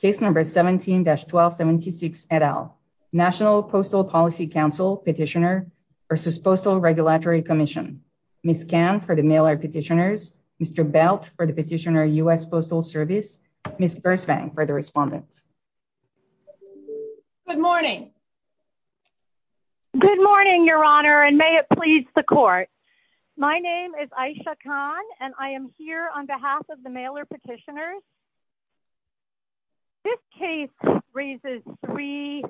Case number 17-1276 et al. National Postal Policy Council petitioner versus Postal Regulatory Commission. Ms. Kan for the mailer petitioners, Mr. Belt for the petitioner U.S. Postal Service, Ms. Birsvang for the respondent. Good morning. Good morning, Your Honor, and may it please the court. My name is Aisha Khan and I am here on behalf of the mailer petitioners. This case raises three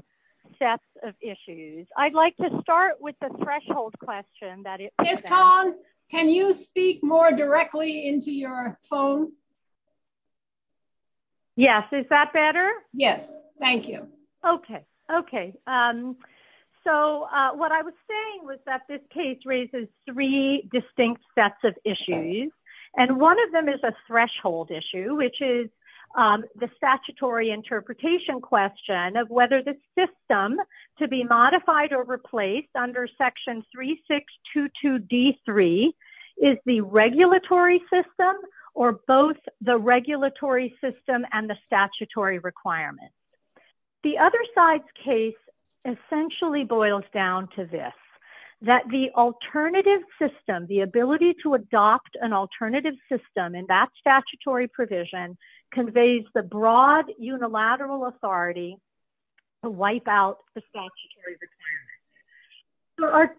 sets of issues. I'd like to start with the threshold question. Ms. Khan, can you speak more directly into your phone? Yes. Is that better? Yes. Thank you. Okay. Okay. So what I was saying was that this case raises three distinct sets of issues, and one of them is a threshold issue, which is the statutory interpretation question of whether the system to be modified or replaced under section 3622D3 is the regulatory system or both the regulatory system and the statutory requirement. The other side's case essentially boils down to this, that the alternative system, the ability to adopt an alternative system in that statutory provision conveys the broad unilateral authority to wipe out the statutory requirement. There are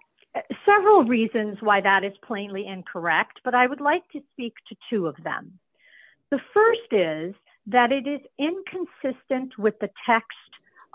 several reasons why that is plainly incorrect, but I would like to speak to two of them. The first is that it is inconsistent with the text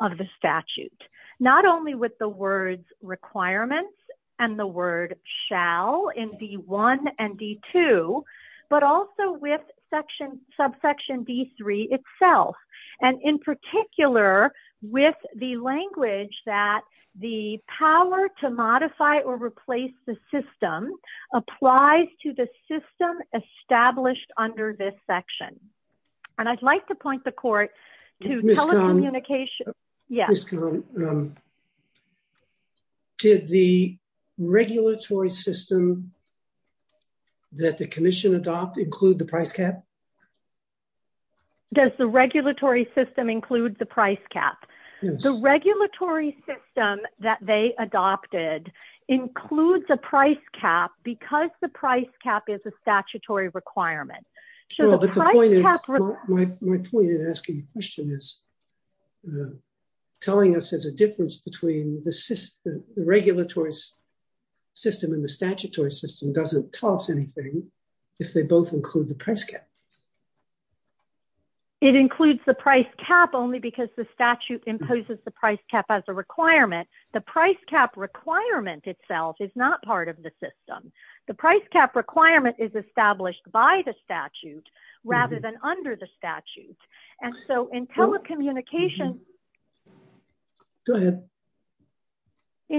of the statute, not only with the words requirements and the word shall in D1 and D2, but also with subsection D3 itself, and in particular, with the language that the power to modify or replace the system applies to the system established under this section. I'd like to point the court to telecommunication. Did the regulatory system that the commission adopted include the price cap? Does the regulatory system include the price cap? The regulatory system that they adopted includes a price cap because the price cap is a statutory requirement. My point in asking the question is, telling us there's a difference between the regulatory system and the statutory system doesn't tell us anything if they both include the price cap. It includes the price cap only because the statute imposes the price cap as a requirement. The price cap requirement itself is not part of the system. The price cap requirement is rather than under the statute. In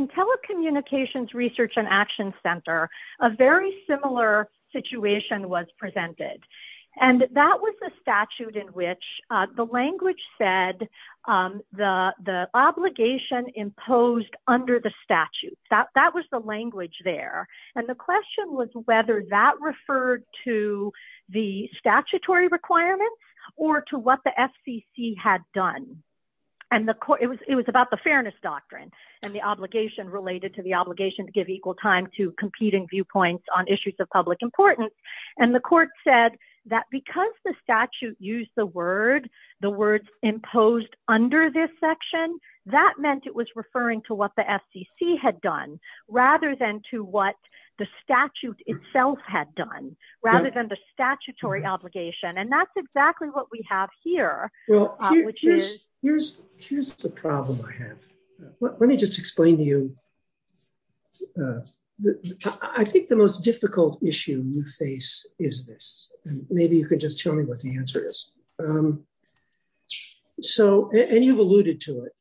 telecommunications research and action center, a very similar situation was presented. That was the statute in which the language said the obligation imposed under the statute. That was the language there. The question was whether that referred to the statutory requirements or to what the FCC had done. It was about the fairness doctrine and the obligation related to the obligation to give equal time to competing viewpoints on issues of public importance. The court said that because the statute used the word, the words imposed under this section, that meant it was referring to what the FCC had done rather than to what the statute itself had done, rather than the statutory obligation. That's exactly what we have here. Here's the problem I have. Let me just explain to you. I think the most difficult issue we face is this. Maybe you could just tell me what the answer is. You've alluded to it.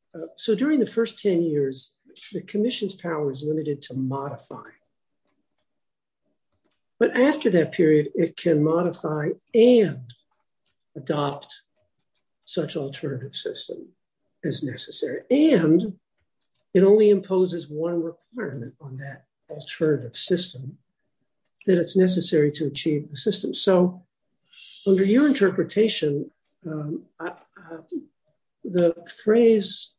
During the first 10 years, the commission's power is limited to modify. After that period, it can modify and adopt such alternative system as necessary. It only imposes one requirement on that alternative system that it's necessary to achieve the system. Under your interpretation, the phrase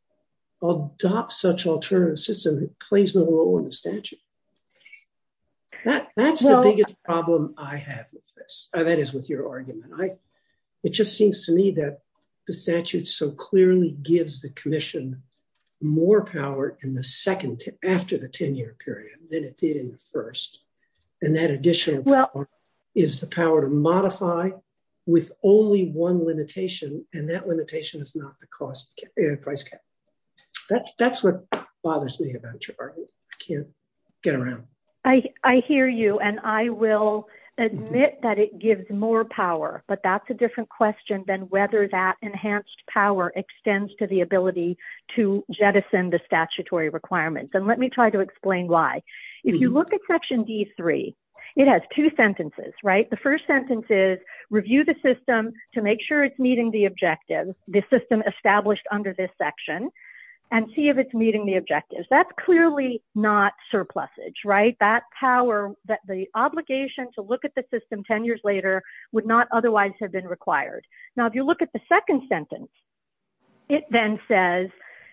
adopt such alternative system plays no role in the statute. That's the biggest problem I have with this. That is with your argument. It just seems to me that the statute so clearly gives the commission more power after the 10-year period than it did in the first. That additional power is the power to modify with only one limitation. That limitation is not the price cap. That's what bothers me about your argument. I can't get around. I hear you. I will admit that it gives more power, but that's a different question than whether that enhanced power extends to the ability to jettison the statutory requirements. Let me try to explain why. If you look at section D3, it has two sentences. The first sentence is, review the system to make sure it's meeting the objectives, the system established under this section, and see if it's meeting the objectives. That's clearly not surplusage. That power, the obligation to look at the system 10 years later would not otherwise have been required. If you look at the second sentence, it then says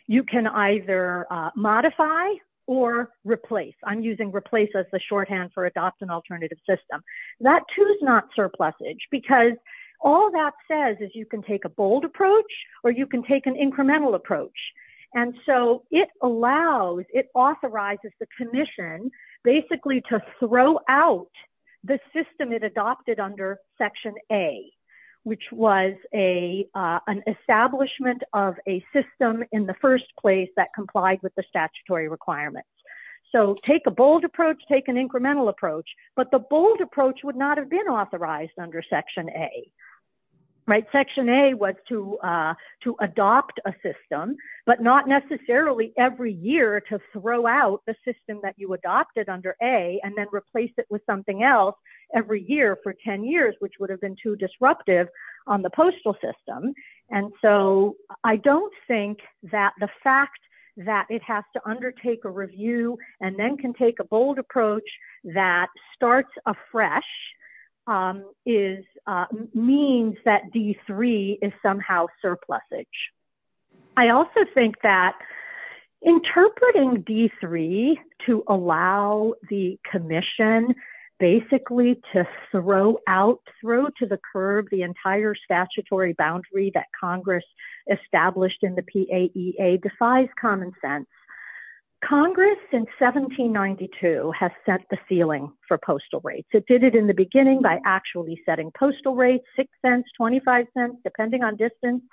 you can either modify or replace. I'm using replace as the shorthand for adopt an alternative system. That too is not surplusage because all that says is you can take a bold approach or you can take an incremental approach. It allows, it authorizes the commission basically to throw out the system it adopted under section A, which was an establishment of a system in the first place that complied with the statutory requirements. Take a bold approach, take an incremental approach, but the bold approach would not have been authorized under section A. Section A was to adopt a system, but not necessarily every year to throw out the system that you adopted under A and then replace it with something else every year for 10 years, which would have been too disruptive on the postal system. I don't think that the fact that it has to undertake a review and then can take a bold approach that starts afresh means that D3 is somehow surplusage. I also think that interpreting D3 to allow the commission basically to throw out, throw to the curb the entire statutory boundary that Congress established in the PAEA defies common sense. Congress in 1792 has set the ceiling for postal rates. It did it in the beginning by actually setting postal rates, $0.06, $0.25, depending on distance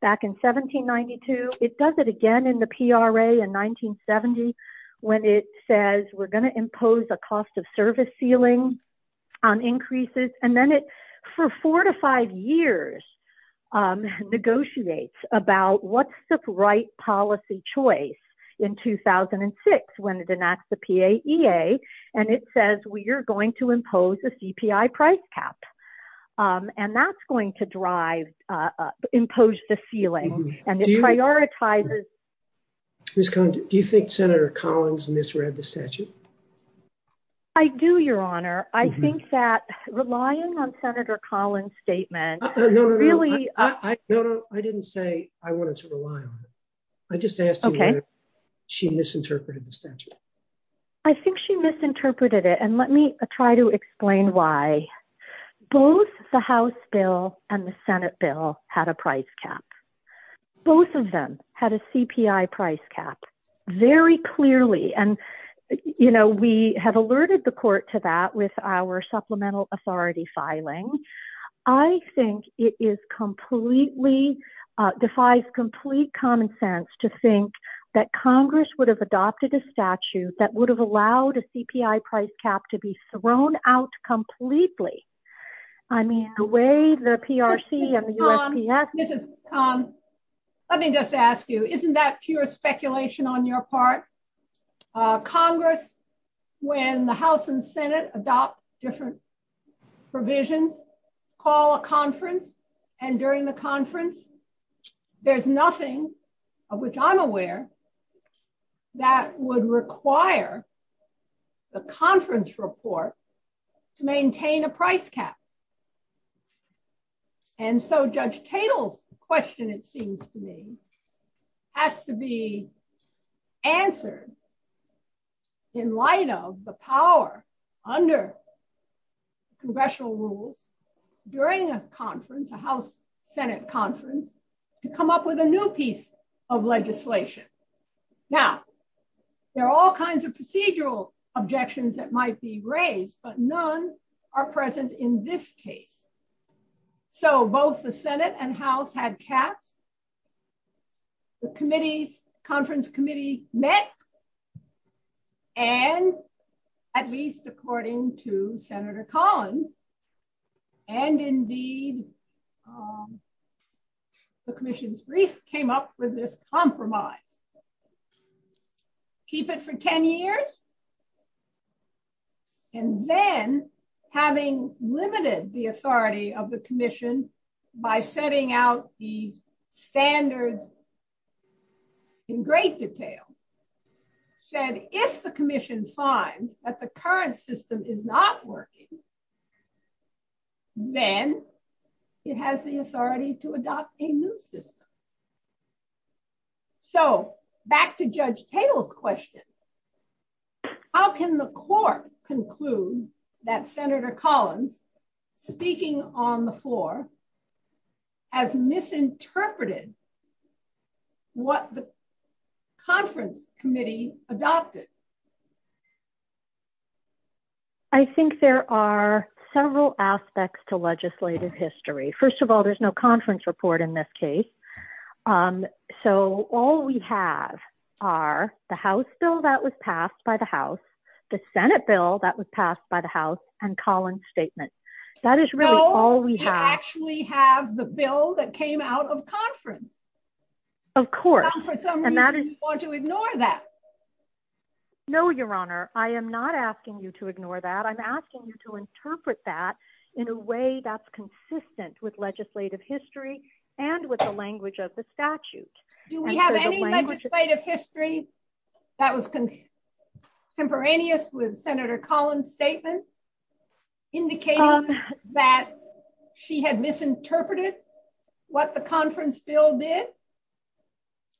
back in 1792. It does it again in the PRA in 1970 when it says we're going to impose a cost of service ceiling on increases. Then it, for four to five years, negotiates about what's the right policy choice in 2006 when it enacts the PAEA and it says we are going to impose a CPI price cap. That's going to impose the ceiling and it prioritizes... Do you think Senator Collins misread the statute? I do, Your Honor. I think that relying on Senator Collins' statement really... She misinterpreted the statute. I think she misinterpreted it. Let me try to explain why. Both the House bill and the Senate bill had a price cap. Both of them had a CPI price cap very clearly. We have alerted the court to that with our supplemental authority filing. I think it defies complete common sense to think that Congress would have adopted a statute that would have allowed a CPI price cap to be thrown out completely. The way the PRC and the USPS... Let me just ask you, isn't that pure speculation on your part? Congress, when the House and Senate adopt different provisions, call a conference, and during the conference, there's nothing of which I'm aware that would require the conference report to maintain a price cap. Judge Tatel's question, it seems to me, has to be answered in light of the power under congressional rules during a conference, a House-Senate conference, to come up with a new piece of legislation. Now, there are all kinds of procedural objections that might be raised, but none are present in this case. So both the Senate and Congress, and at least according to Senator Collins, and indeed the Commission's brief, came up with this compromise. Keep it for 10 years, and then having limited the authority of the Commission by setting out the standards in great detail, said, if the Commission finds that the current system is not working, then it has the authority to adopt a new system. So back to Judge Tatel's question, how can the Court conclude that Senator Collins, speaking on the floor, has misinterpreted what the conference committee adopted? I think there are several aspects to legislative history. First of all, there's no conference report in this case. So all we have are the House bill that was passed by the House, the Senate bill that was passed by the House, and Collins' statement. That is all we have. So we actually have the bill that came out of conference. Of course. And for some reason, you want to ignore that. No, Your Honor, I am not asking you to ignore that. I'm asking you to interpret that in a way that's consistent with legislative history and with the language of the statute. Do we have any legislative history that was contemporaneous with Senator Collins' statement indicating that she had misinterpreted what the conference bill did?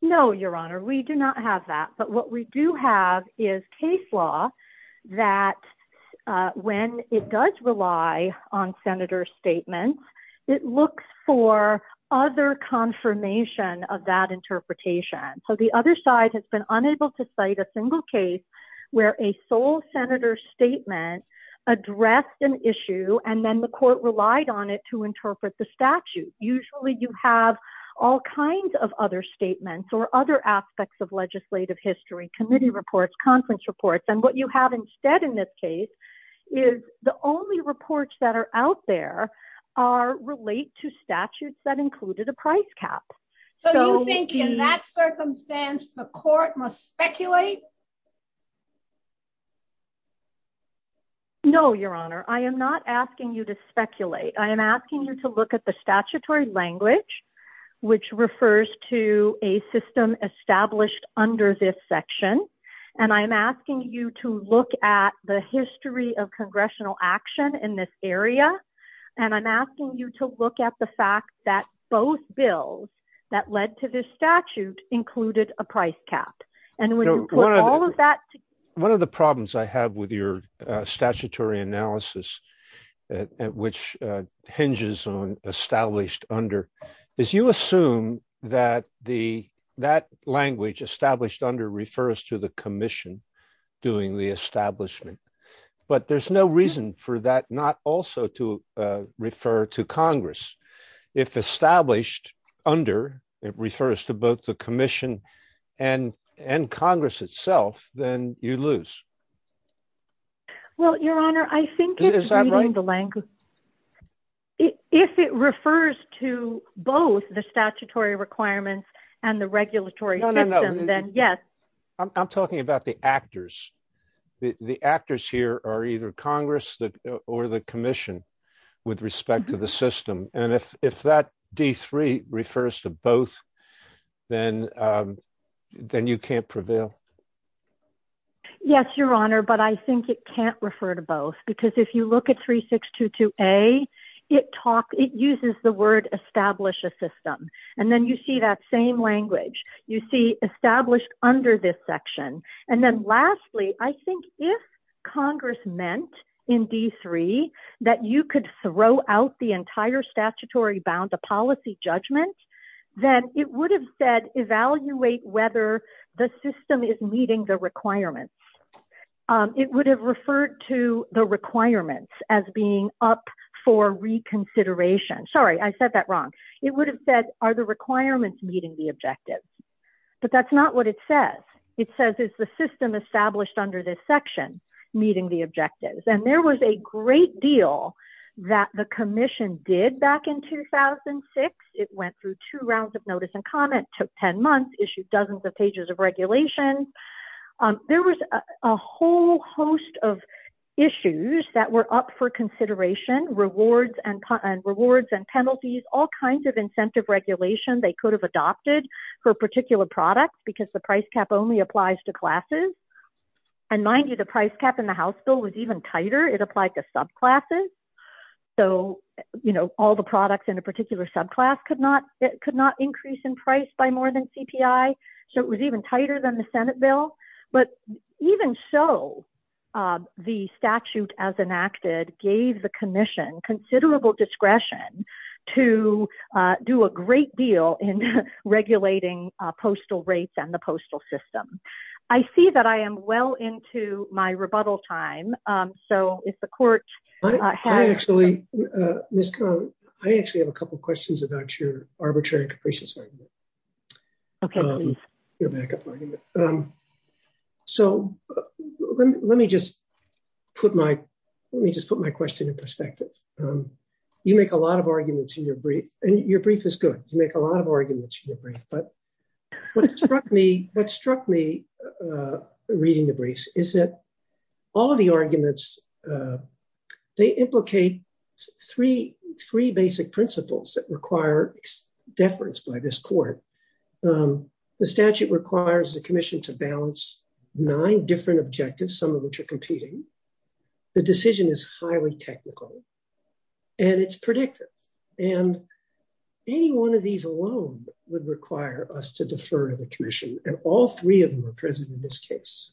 No, Your Honor, we do not have that. But what we do have is case law that when it does rely on Senator's statement, it looks for other confirmation of that interpretation. So the other side has been unable to cite a single case where a sole Senator's statement addressed an issue and then the court relied on it to interpret the statute. Usually you have all kinds of other statements or other aspects of legislative history, committee reports, conference reports. And what you have instead in this case is the only reports that are out there relate to statutes that the court must speculate. No, Your Honor, I am not asking you to speculate. I am asking you to look at the statutory language, which refers to a system established under this section. And I'm asking you to look at the history of congressional action in this area. And I'm asking you to look at the fact that both bills that led to this statute included a price cap. And when you put all of that... One of the problems I have with your statutory analysis, which hinges on established under, is you assume that language established under refers to the commission doing the establishment. But there's no reason for that not also to refer to Congress. If established under, it refers to both the commission and Congress itself, then you lose. Well, Your Honor, I think... If it refers to both the statutory requirements and the regulatory system, then yes. I'm talking about the actors. The actors here are either Congress or the commission with respect to the system. And if that D3 refers to both, then you can't prevail. Yes, Your Honor, but I think it can't refer to both. Because if you look at 3622A, it uses the word establish a system. And then you see that same language. You see established under this section. And then lastly, I think if Congress meant in D3 that you could throw out the entire statutory bound, the policy judgment, then it would have said, evaluate whether the system is meeting the requirements. It would have referred to the requirements as being up for reconsideration. Sorry, I said that wrong. It would have said, are the requirements meeting the objectives? But that's not what it says. It says, is the system established under this section meeting the objectives? And there was a great deal that the commission did back in 2006. It went through two rounds of notice and comment, took 10 months, issued dozens of pages of regulations. There was a whole host of issues that were up for consideration. They could have adopted for a particular product because the price cap only applies to classes. And the price cap in the House bill was even tighter. It applied to subclasses. So all the products in a particular subclass could not increase in price by more than CPI. So it was even tighter than the Senate bill. But even so, the statute as enacted gave the deal in regulating postal rates and the postal system. I see that I am well into my rebuttal time. So if the court- I actually have a couple of questions about your arbitrary capricious argument. So let me just put my question in perspective. You make a lot of arguments in your brief. And your brief is good. You make a lot of arguments in your brief. But what struck me reading the briefs is that all of the arguments, they implicate three basic principles that require deference by this court. The statute requires the commission to balance nine different objectives, some of which are technical. And it's predictive. And any one of these alone would require us to defer to the commission. And all three of them are present in this case.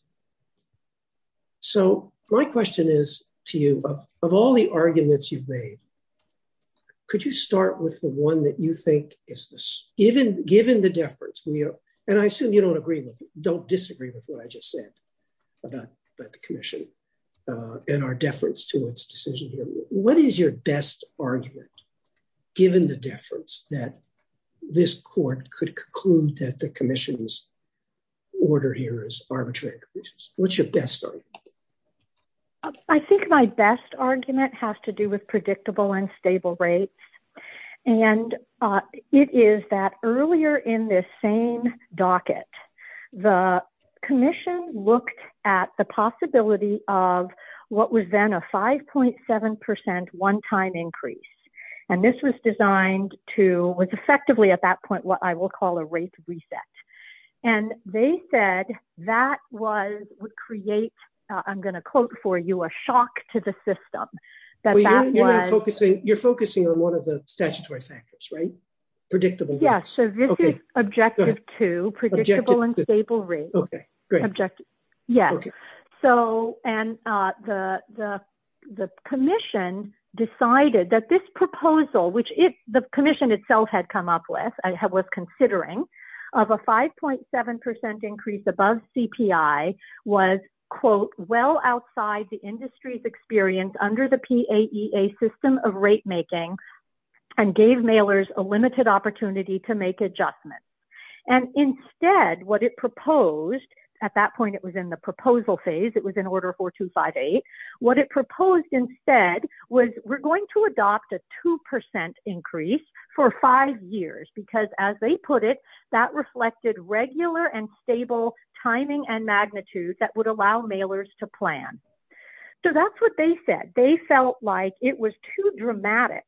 So my question is to you, of all the arguments you've made, could you start with the one that you think is- given the deference, and I assume you don't disagree with what I just said about the commission and our deference to decision here- what is your best argument, given the deference, that this court could conclude that the commission's order here is arbitrary? What's your best argument? I think my best argument has to do with predictable and stable rates. And it is that earlier in this same docket, the commission looked at the possibility of what was then a 5.7 percent one-time increase. And this was designed to- was effectively at that point what I will call a rate reset. And they said that would create, I'm going to quote for you, a shock to the system. You're focusing on one of the statutory factors, right? Predictable rates. So this is objective two, predictable and stable rates. Yes. So the commission decided that this proposal, which the commission itself had come up with and was considering, of a 5.7 percent increase above CPI was, quote, well outside the industry's experience under the PAEA system of rate making and gave mailers a to make adjustments. And instead what it proposed, at that point it was in the proposal phase, it was in order 4258, what it proposed instead was we're going to adopt a 2 percent increase for five years because, as they put it, that reflected regular and stable timing and magnitude that would allow mailers to plan. So that's what they said. They felt like it was too dramatic.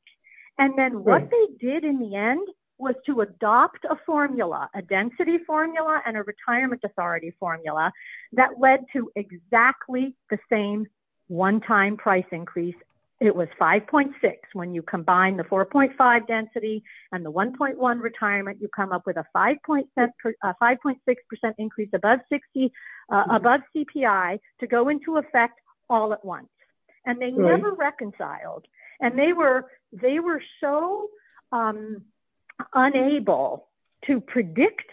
And then what they did in the end was to adopt a formula, a density formula and a retirement authority formula that led to exactly the same one time price increase. It was 5.6 when you combine the 4.5 density and the 1.1 retirement, you come up with a 5.6 percent increase above 60, above CPI to go into effect all at once. And they never reconciled. And they were so unable to predict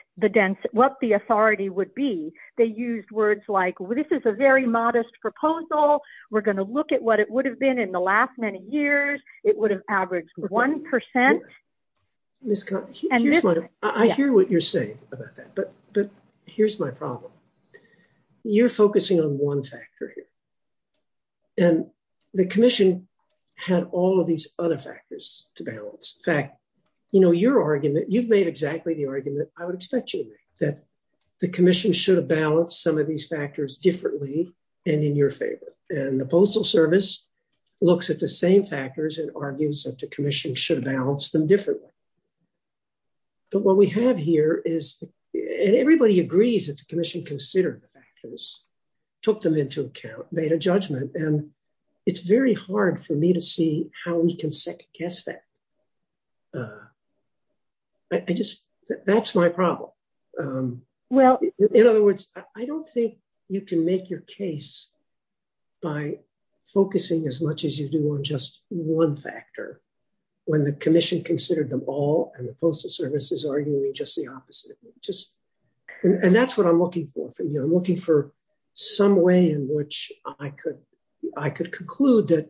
what the authority would be. They used words like this is a very modest proposal, we're going to look at what it would have been in the last many years, it would have averaged one percent. I hear what you're saying about that, but here's my problem. You're focusing on one factor here. And the commission had all of these other factors to balance. In fact, you know, your argument, you've made exactly the argument I would expect you to make, that the commission should have balanced some of these factors differently and in your favor. And the Postal Service looks at the same factors and argues that the commission should have balanced them differently. But what we have here is, and everybody agrees that the commission considered the factors, took them into account, made a judgment. And it's very hard for me to see how we can second guess that. I just, that's my problem. Well, in other words, I don't think you can make your case by focusing as much as you do on just one factor when the commission considered them all and the Postal Service is arguing just the opposite. And that's what I'm looking for from you. I'm looking for some way in which I could conclude that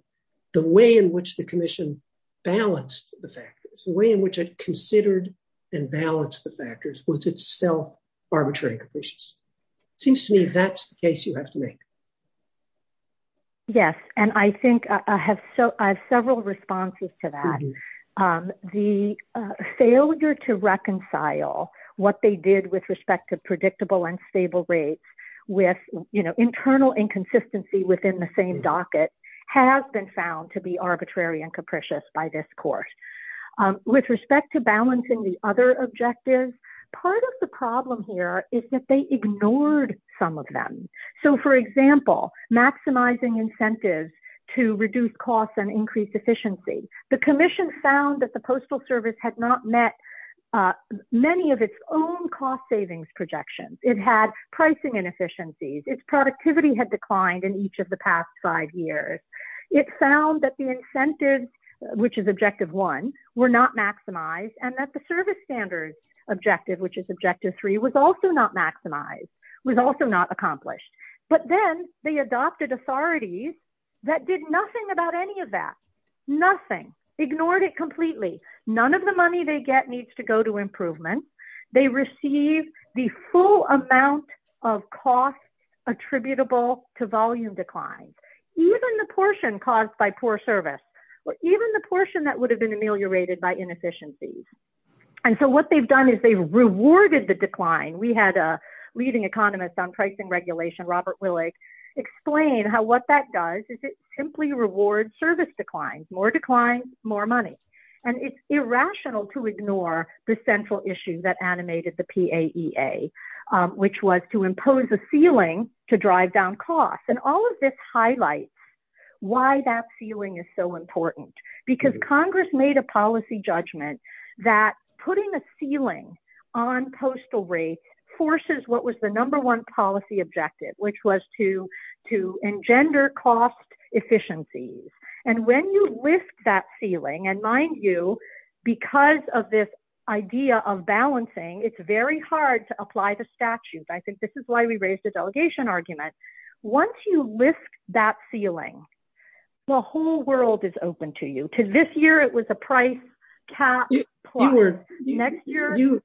the way in which the commission balanced the factors, the way in which it considered and balanced the factors was still arbitrary and capricious. It seems to me that's the case you have to make. Yes. And I think I have several responses to that. The failure to reconcile what they did with respect to predictable and stable rates with internal inconsistency within the same docket has been found to be arbitrary and capricious by this court. With respect to balancing the objectives, part of the problem here is that they ignored some of them. So for example, maximizing incentives to reduce costs and increase efficiency. The commission found that the Postal Service had not met many of its own cost savings projections. It had pricing inefficiencies. Its productivity had declined in each of the past five years. It found that incentives, which is objective one, were not maximized and that the service standards objective, which is objective three, was also not maximized, was also not accomplished. But then they adopted authorities that did nothing about any of that. Nothing. Ignored it completely. None of the money they get needs to go to improvement. They receive the full amount of cost attributable to volume decline. Even the portion caused by poor service, or even the portion that would have been ameliorated by inefficiencies. And so what they've done is they've rewarded the decline. We had a leading economist on pricing regulation, Robert Willig, explain how what that does is it simply rewards service declines. More declines, more money. And it's irrational to ignore the central issue that animated the PAEA, which was to impose a ceiling to drive down costs. And all of this highlights why that ceiling is so important. Because Congress made a policy judgment that putting a ceiling on postal rates forces what was the number one policy objective, which was to engender cost efficiencies. And when you lift that ceiling, and mind you, because of this idea of balancing, it's very hard to apply the statute. I think this is why we raised the delegation argument. Once you lift that ceiling, the whole world is open to you. Because this year it was a price cap plus. Next year...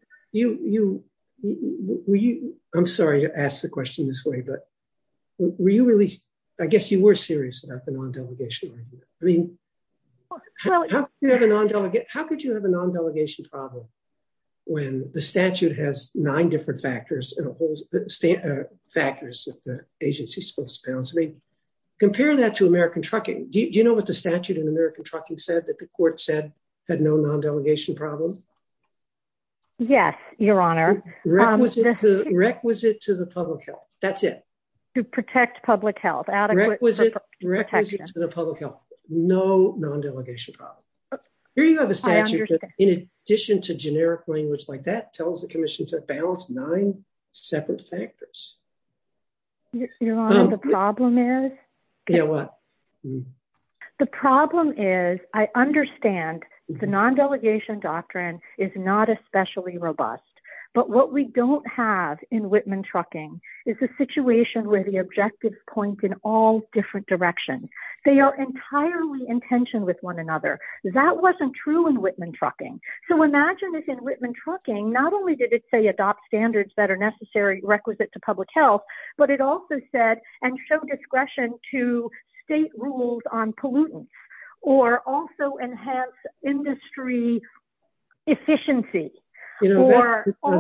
I'm sorry to ask the question this way, but were you really... I guess you were serious about the non-delegation argument. I mean, how could you have a non-delegation problem when the statute has nine different factors that the agency's supposed to balance? I mean, compare that to American trucking. Do you know what the statute in American trucking said that the court said had no non-delegation problem? Yes, your honor. Requisite to the public health. That's it. To protect public health. Requisite to the public health. No non-delegation problem. Here you have a statute that, in addition to generic language like that, tells the commission to balance nine separate factors. Your honor, the problem is... Yeah, what? The problem is, I understand the non-delegation doctrine is not especially robust. But what we don't have in Whitman trucking is a situation where the objectives point in all different directions. They are entirely in tension with one another. That wasn't true in Whitman trucking. So imagine if in Whitman trucking, not only did it say adopt standards that are necessary, requisite to public health, but it also said, and show discretion to state rules on pollutants, or also enhance industry efficiency.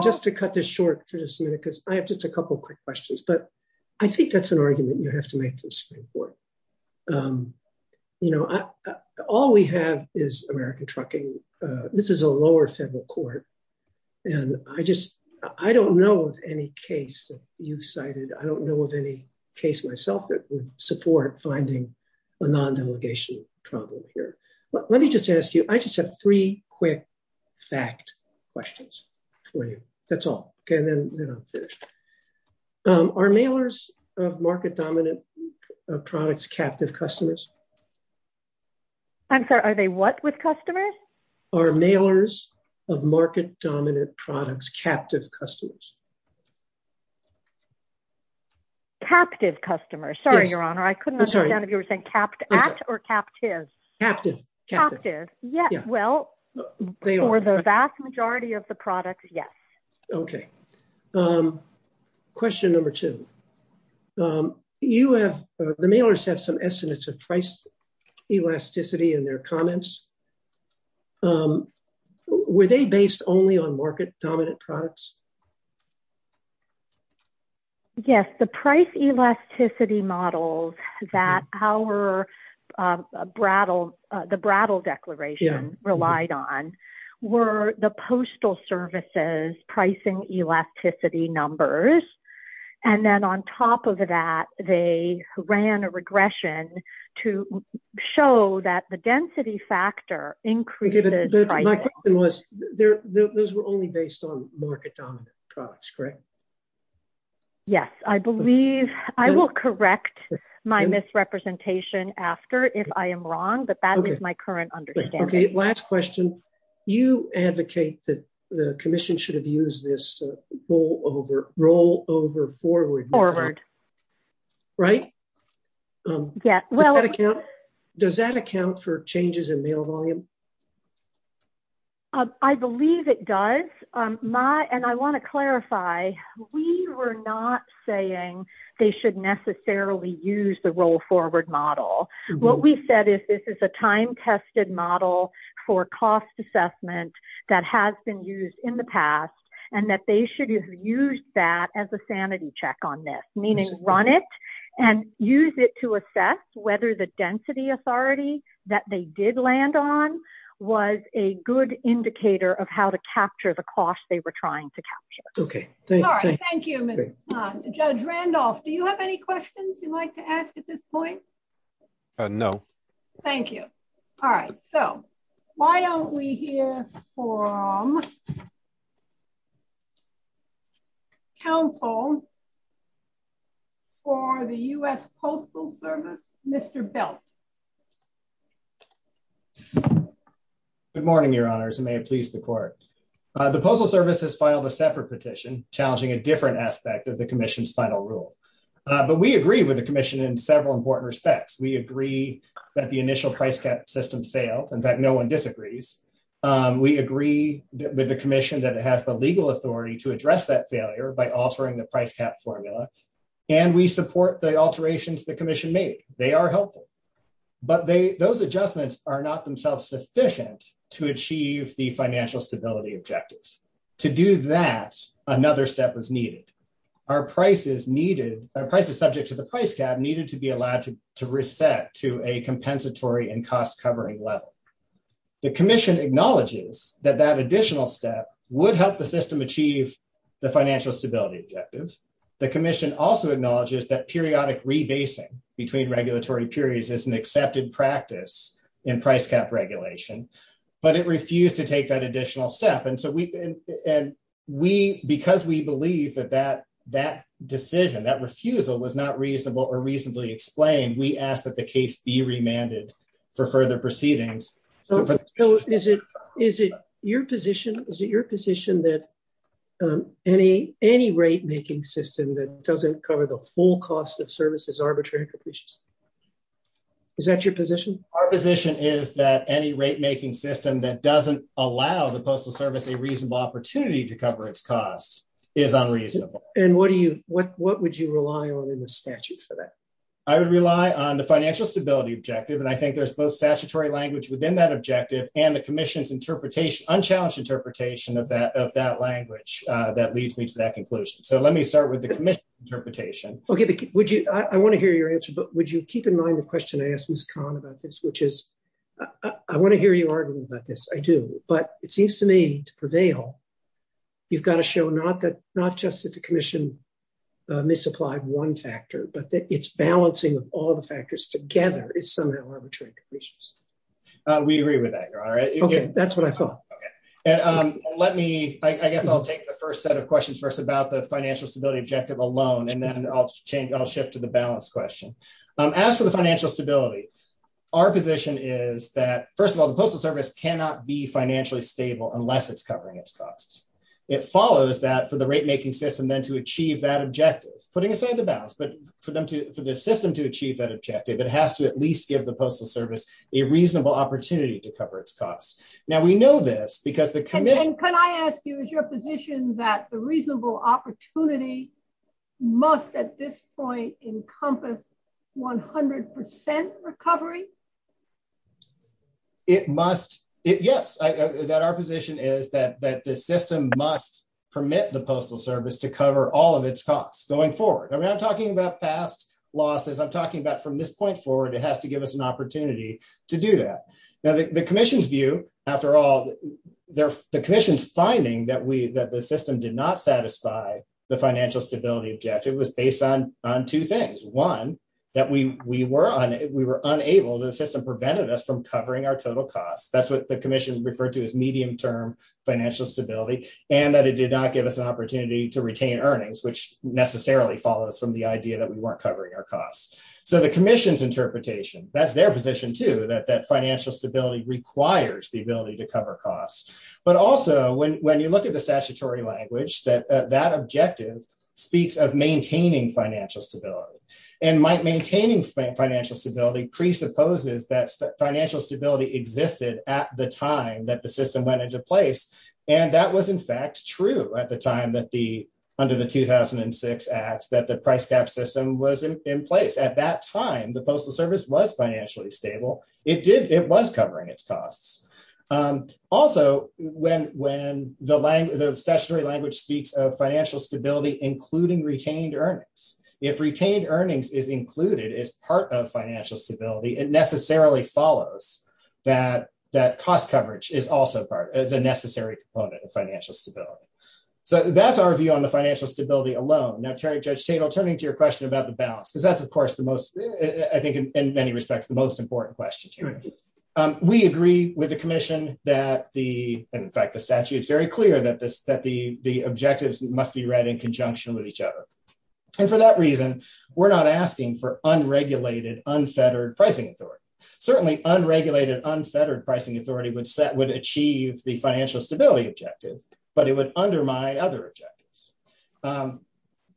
Just to cut this short for just a minute, because I have just a couple of quick questions. But I think that's an argument you have to make in the Supreme Court. All we have is American trucking. This is a lower federal court. And I don't know of any case that you've cited. I don't know of any case myself that would support finding a non-delegation problem here. But let me just ask you, I just have three quick fact questions for you. That's all. Are mailers of market-dominant products captive customers? I'm sorry, are they what with customers? Are mailers of market-dominant products captive customers? Captive customers. Sorry, Your Honor. I couldn't understand if you were saying at or captive. Captive. Captive. Well, for the vast majority of the products, yes. Okay. Question number two. The mailers have some estimates of price elasticity in their comments. Were they based only on market-dominant products? Yes. The price elasticity models that the Brattle Declaration relied on were the postal services pricing elasticity numbers. And then on top of that, they ran a regression to show that the density factor increases. My question was, those were only based on market-dominant products. Correct? Yes. I believe, I will correct my misrepresentation after if I am wrong, but that is my current understanding. Okay. Last question. You advocate that the commission should have used this rollover forward. Forward. Right? Yeah. Does that account for changes in mail volume? I believe it does. And I want to clarify, we were not saying they should necessarily use the roll forward model. What we said is this is a time-tested model for cost assessment that has been used in the past, and that they should have used that as a sanity check on this. Meaning, run it and use it to assess whether the density authority that they did land on was a good indicator of how to capture the cost they were trying to capture. Okay. Thank you. Judge Randolph, do you have any questions you'd like to ask at this point? No. Thank you. All right. So, why don't we hear from counsel for the U.S. Postal Service, Mr. Belt. Good morning, Your Honors, and may it please the court. The Postal Service has filed a separate petition challenging a different aspect of the commission's final rule. But we agree with the commission in several important respects. We agree that the initial price cap system failed, in fact, no one disagrees. We agree with the commission that it has the legal authority to address that failure by altering the price cap formula. And we support the alterations the commission made. They are helpful. But those adjustments are not themselves sufficient to achieve the financial stability objectives. To do that, another step was needed. Our price is needed, our price is subject to the price cap, needed to be allowed to reset to a compensatory and cost-covering level. The commission acknowledges that that additional step would help the system achieve the financial stability objectives. The commission also acknowledges that periodic rebasing between regulatory periods is an accepted practice in price cap regulation, but it refused to take that additional step. And so, because we believe that that decision, that refusal was not reasonable or reasonably explained, we ask that the case be remanded for further proceedings. So, is it your position that any rate-making system that doesn't cover the full cost of services arbitrary and capricious? Is that your position? Our position is that any rate-making system that doesn't allow the Postal Service a reasonable opportunity to cover its costs is unreasonable. And what would you rely on in the statute for that? I would rely on the financial stability objective, and I think there's both statutory language within that objective and the commission's interpretation, unchallenged interpretation of that language that leads me to that conclusion. So, let me start with the commission's interpretation. Okay. I want to hear your answer, but would you keep in mind the question I asked Ms. Kahn about this, which is, I want to hear you arguing about this. I do. But it seems to me, for Dale, you've got to show not just that the commission misapplied one factor, but that its balancing of all the factors together is somewhat arbitrary conditions. We agree with that, Your Honor. Okay. That's what I thought. Okay. And let me, I guess I'll take the first set of questions first about the financial stability objective alone, and then I'll shift to the balance question. As for the financial stability, our position is that, first of all, the Postal Service cannot be financially stable unless it's covering its costs. It follows that for the rate-making system then to achieve that objective, putting aside the balance, but for them to, for the system to achieve that objective, it has to at least give the Postal Service a reasonable opportunity to cover its costs. Now, we know this because the commission... And can I ask you, is your position that the reasonable opportunity must at this point encompass 100% recovery? It must. Yes. That our position is that the system must permit the Postal Service to cover all of its costs going forward. I'm not talking about past losses. I'm talking about from this point forward, it has to give us an opportunity to do that. Now, the commission's view, after all, the commission's finding that the system did not satisfy the financial stability objective was based on two things. One, that we were unable, the system prevented us from covering our total costs. That's what the commission referred to as medium-term financial stability, and that it did not give us an opportunity to retain earnings, which necessarily follows from the idea that we weren't covering our costs. So the commission's interpretation, that's their position too, that financial stability requires the ability to cover costs. But also, when you look at the statutory language, that objective speaks of maintaining financial stability. And maintaining financial stability presupposes that financial stability existed at the time that the system went into place. And that was, in fact, true at the time that the, under the 2006 Act, that the price-tax system was in place. At that time, the Postal Service was financially stable. It did, it was covering its costs. Also, when the language, the statutory language speaks of financial stability, including retained earnings. If retained earnings is included as part of financial stability, it necessarily follows that cost coverage is also part, is a necessary component of financial stability. So that's our view on the financial stability alone. Now, Terry, Judge Chadle, turning to your question about the balance, because that's, of course, the most, I think, in many respects, the most important question here. We agree with the commission that the, in fact, the statute is very clear that the objectives must be read in conjunction with each other. And for that reason, we're not asking for unregulated, unfettered pricing authority. Certainly, unregulated, unfettered pricing authority would set, would achieve the financial stability objective, but it would undermine other objectives.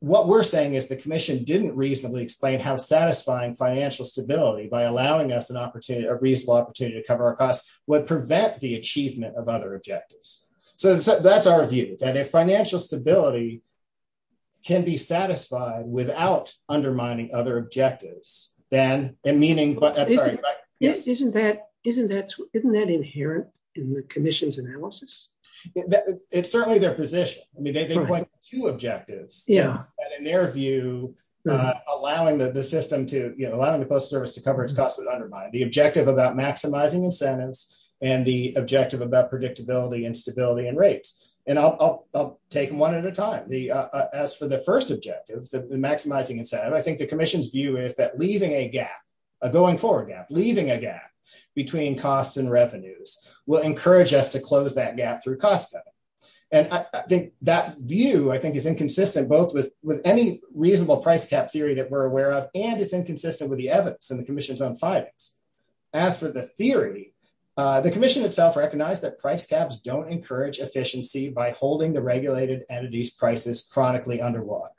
What we're saying is the commission didn't reasonably explain how satisfying financial stability by allowing us an opportunity, a reasonable opportunity to cover our costs would prevent the achievement of other objectives. So that's our view, that if financial stability can be satisfied without undermining other objectives, then, and meaning, but- Isn't that, isn't that, isn't that inherent in the commission's analysis? It's certainly their position. I mean, they've got quite a few objectives. Yeah. And in their view, allowing the system to, you know, allowing the post service to cover its costs would undermine the objective about maximizing incentives and the objective about predictability and stability and I'll take them one at a time. The, as for the first objective, the maximizing incentive, I think the commission's view is that leaving a gap, a going forward gap, leaving a gap between costs and revenues will encourage us to close that gap through costs. And I think that view, I think is inconsistent, both with any reasonable price cap theory that we're aware of, and it's inconsistent with the evidence and the commission's own findings. As for the theory, the commission itself recognized that price caps don't encourage efficiency by holding the regulated entities prices chronically under lock.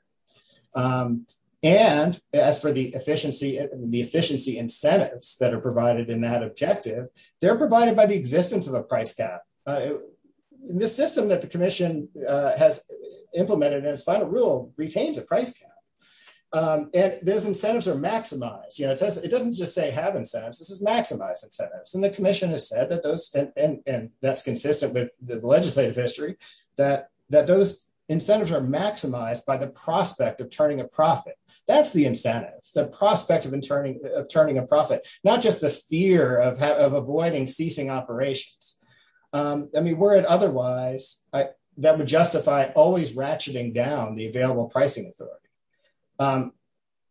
And as for the efficiency, the efficiency incentives that are provided in that objective, they're provided by the existence of a price cap. The system that the commission has implemented in its final rule retains a price cap. If those incentives are maximized, you know, it doesn't just say have incentives, it maximizes incentives. And the commission has said that those, and that's consistent with the legislative history, that those incentives are maximized by the prospect of turning a profit. That's the incentive, the prospect of turning a profit, not just the fear of avoiding ceasing operations. I mean, were it otherwise, that would justify always ratcheting down the available pricing authority.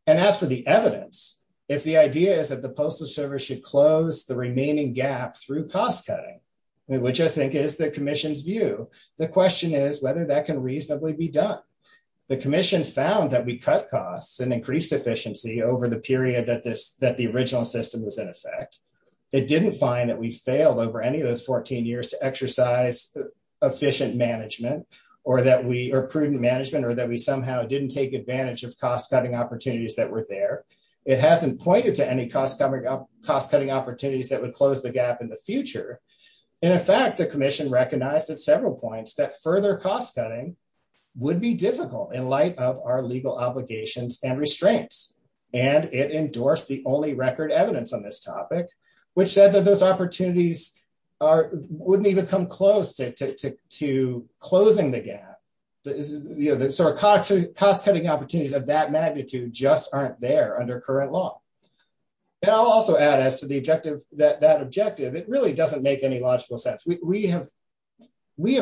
And as for the evidence, if the idea is that the postal service should close the remaining gap through cost-cutting, which I think is the commission's view, the question is whether that can reasonably be done. The commission found that we cut costs and increased efficiency over the period that this, that the original system was in effect. It didn't find that we failed over any of those 14 years to exercise efficient management or that we, or prudent management or that we somehow didn't take advantage of cost-cutting opportunities that were there. It hasn't pointed to any cost-cutting opportunities that would close the gap in the future. And in fact, the commission recognized at several points that further cost-cutting would be difficult in light of our legal obligations and restraints. And it endorsed the only record evidence on this topic, which said that those opportunities are, wouldn't even come close to closing the gap. The sort of cost-cutting opportunities of that magnitude just aren't there under current law. And I'll also add as to the objective, that objective, it really doesn't make any logical sense. We have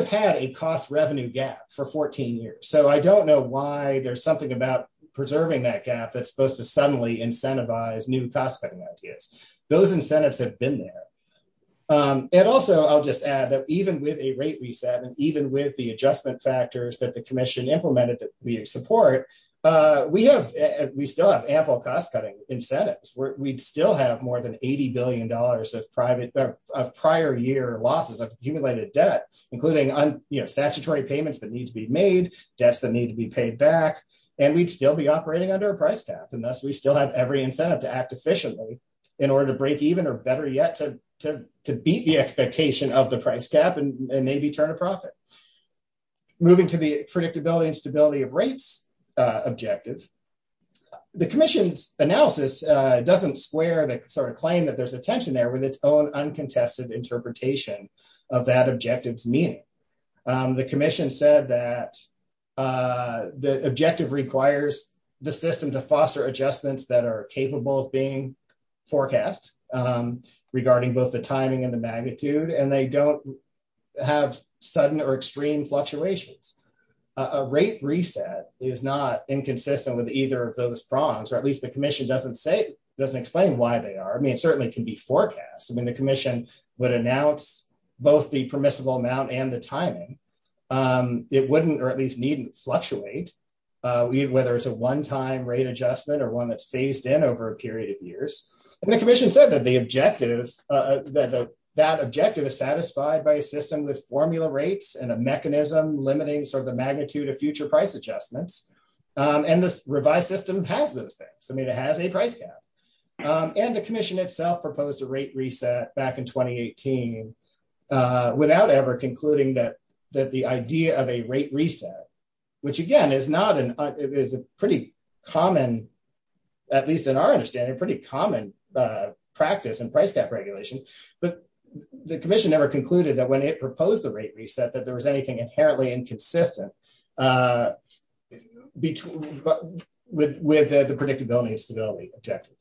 had a cost-revenue gap for 14 years. So I don't know why there's something about preserving that gap that's supposed to suddenly incentivize new cost-cutting ideas. Those incentives have been there. And also I'll just add that even with a rate reset and even with the adjustment factors that the commission implemented that we support, we have, we still have ample cost-cutting incentives. We'd still have more than $80 billion of private, of prior year losses of accumulated debt, including, you know, statutory payments that need to be made, debts that need to be paid back, and we'd still be to act efficiently in order to break even or better yet to beat the expectation of the price gap and maybe turn a profit. Moving to the predictability and stability of rates objectives, the commission's analysis doesn't square the sort of claim that there's a tension there with its own uncontested interpretation of that objective's meaning. The commission said that the objective requires the system to foster adjustments that are capable of being forecast regarding both the timing and the magnitude, and they don't have sudden or extreme fluctuations. A rate reset is not inconsistent with either of those prongs, or at least the commission doesn't say, doesn't explain why they are. I mean, it certainly can be forecast. I mean, the commission would announce both the permissible amount and the timing. It wouldn't, or at least needn't, fluctuate, whether it's a one-time rate adjustment or one that's phased in over a period of years. And the commission said that the objective, that objective is satisfied by a system with formula rates and a mechanism limiting sort of the magnitude of future price adjustments, and the revised system has those things. I mean, it has a price gap. And the commission itself proposed a rate reset back in 2018 without ever concluding that the idea of a rate reset, which again is a pretty common, at least in our understanding, pretty common practice in price gap regulation, but the commission never concluded that when it proposed the rate reset, that there was anything inherently inconsistent with the predictability and stability objective.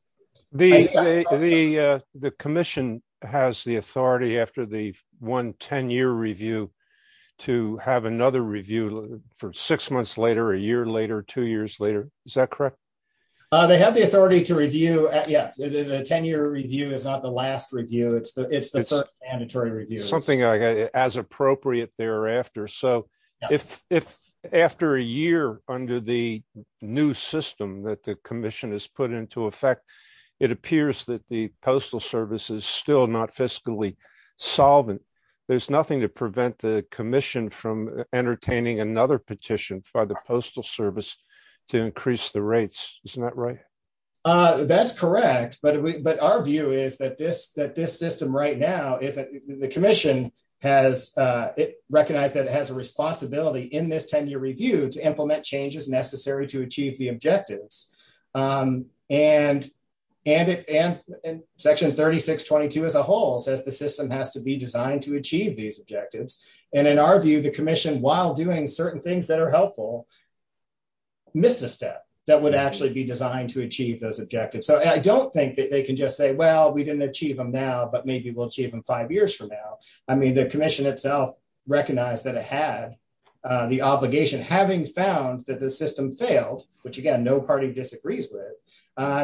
The commission has the one 10-year review to have another review for six months later, a year later, two years later. Is that correct? They have the authority to review. Yeah. The 10-year review is not the last review. It's the first mandatory review. Something as appropriate thereafter. So, if after a year under the new system that the commission has put into effect, it appears that the postal service is still not fiscally solvent, there's nothing to prevent the commission from entertaining another petition by the postal service to increase the rates. Isn't that right? That's correct. But our view is that this system right now, the commission recognized that it has a responsibility in this 10-year review to implement changes necessary to and section 3622 as a whole says the system has to be designed to achieve these objectives. And in our view, the commission, while doing certain things that are helpful, missed a step that would actually be designed to achieve those objectives. So, I don't think that they can just say, well, we didn't achieve them now, but maybe we'll achieve them five years from now. I mean, the commission itself recognized that it had the obligation, having found that the system failed, which, again, no party disagrees with,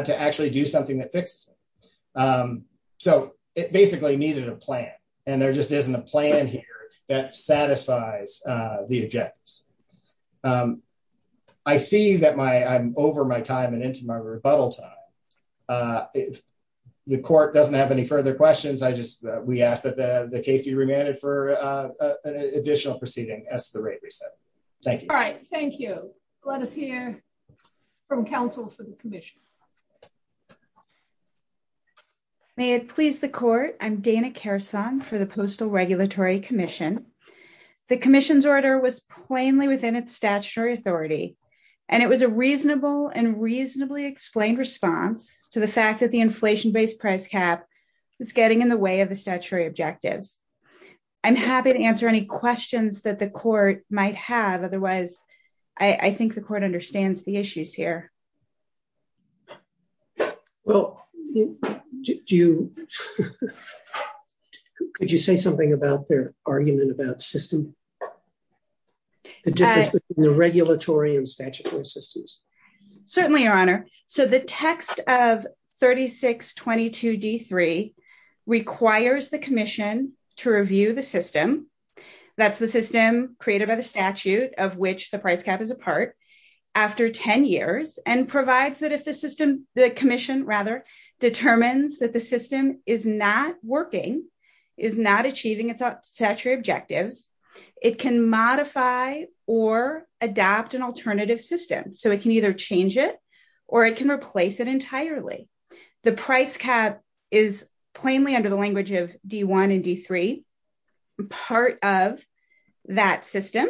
to actually do something that fixes it. So, it basically needed a plan. And there just isn't a plan here that satisfies the objectives. I see that I'm over my time and into my rebuttal time. If the court doesn't have any further questions, I just, we ask that the case be remanded for additional proceeding as the rate is set. Thank you. All right. Thank you. Let us hear from counsel for the commission. May it please the court. I'm Dana Kersong for the Postal Regulatory Commission. The commission's order was plainly within its statutory authority, and it was a reasonable and reasonably explained response to the fact that the inflation-based price cap is getting in the way of the statutory objectives. I'm happy to answer any questions that the court might have. Otherwise, I think the court understands the issues here. Well, could you say something about their argument about the system, the difference between the regulatory and statutory systems? Certainly, Your Honor. So, the text of 3622D3 requires the commission to review the system. That's the system created by the statute of which the price cap is a part, after 10 years, and provides that a system, the commission rather, determines that the system is not working, is not achieving its statutory objectives. It can modify or adopt an alternative system. So, it can either change it or it can replace it entirely. The price cap is plainly under the of that system.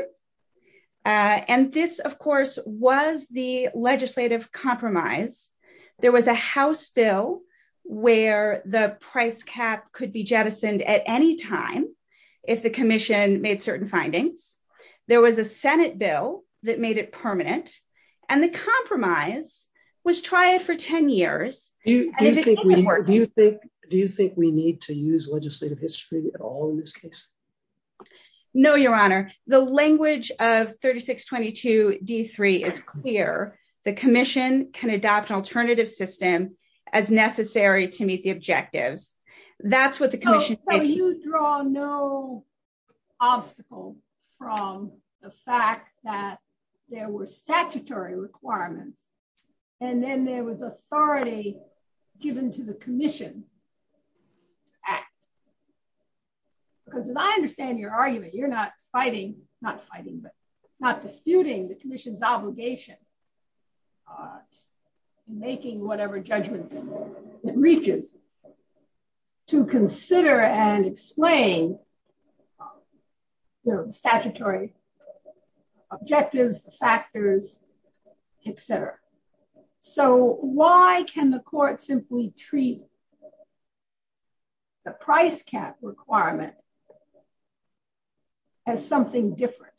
And this, of course, was the legislative compromise. There was a House bill where the price cap could be jettisoned at any time if the commission made certain findings. There was a Senate bill that made it permanent, and the compromise was tried for 10 years. Do you think we need to use legislative history at all in this case? No, Your Honor. The language of 3622D3 is clear. The commission can adopt an alternative system as necessary to meet the objectives. That's what the commission— So, you draw no obstacles from the fact that there were statutory requirements, and then there was authority given to the commission to act. Because as I understand your argument, you're not fighting—not fighting, but not disputing—the commission's obligation to making whatever judgment it reaches to consider and explain the statutory objectives, factors, etc. So, why can the court simply treat the price cap requirement as something different?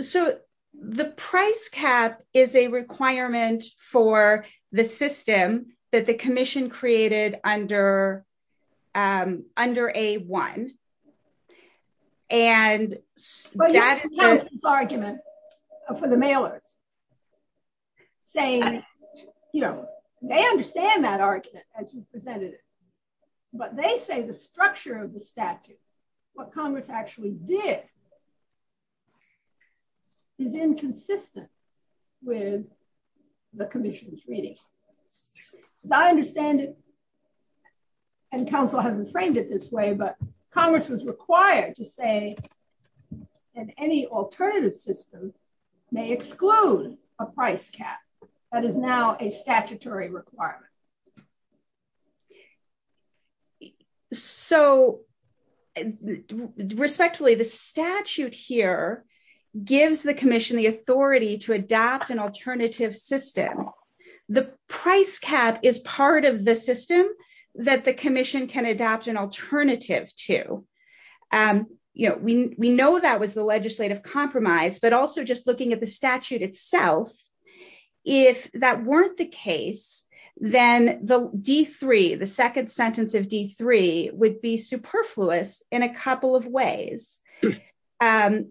So, the price cap is a requirement for the system that the commission created under A-1. But that's the argument for the mailers. They understand that argument, as you presented it. But they say the structure of the statute, what Congress actually did, is inconsistent with the commission's reading. As I understand it, and counsel hasn't framed it this way, but Congress was required to say that any alternative system may exclude a price cap that is now a statutory requirement. So, respectfully, the statute here gives the commission the authority to adopt an alternative system. The price cap is part of the system that the commission can adopt an alternative to. You know, we know that was the legislative compromise, but also just looking at the D-3 would be superfluous in a couple of ways. The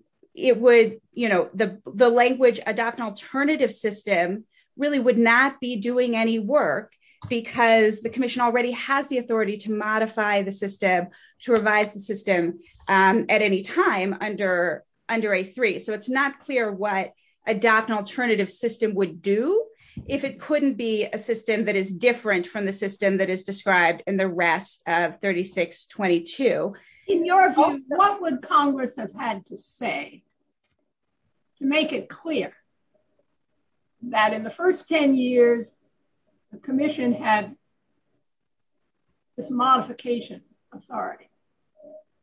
language, adopt an alternative system, really would not be doing any work because the commission already has the authority to modify the system, to revise the system at any time under A-3. So, it's not clear what adopt an alternative system would do if it couldn't be a system that is different from the system that the rest of 3622. In your opinion, what would Congress have had to say to make it clear that in the first 10 years, the commission had this modification authority?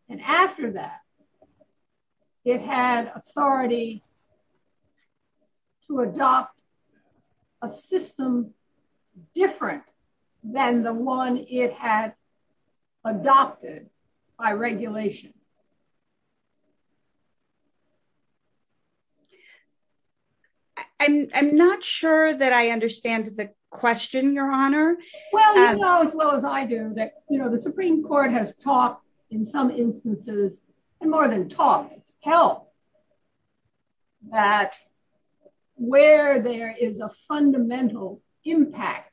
And after that, it had authority to adopt a system different than the one it had adopted by regulation? I'm not sure that I understand the question, Your Honor. Well, you know as well as I do that, you know, the Supreme Court has talked in some instances more than talked, it's held that where there is a fundamental impact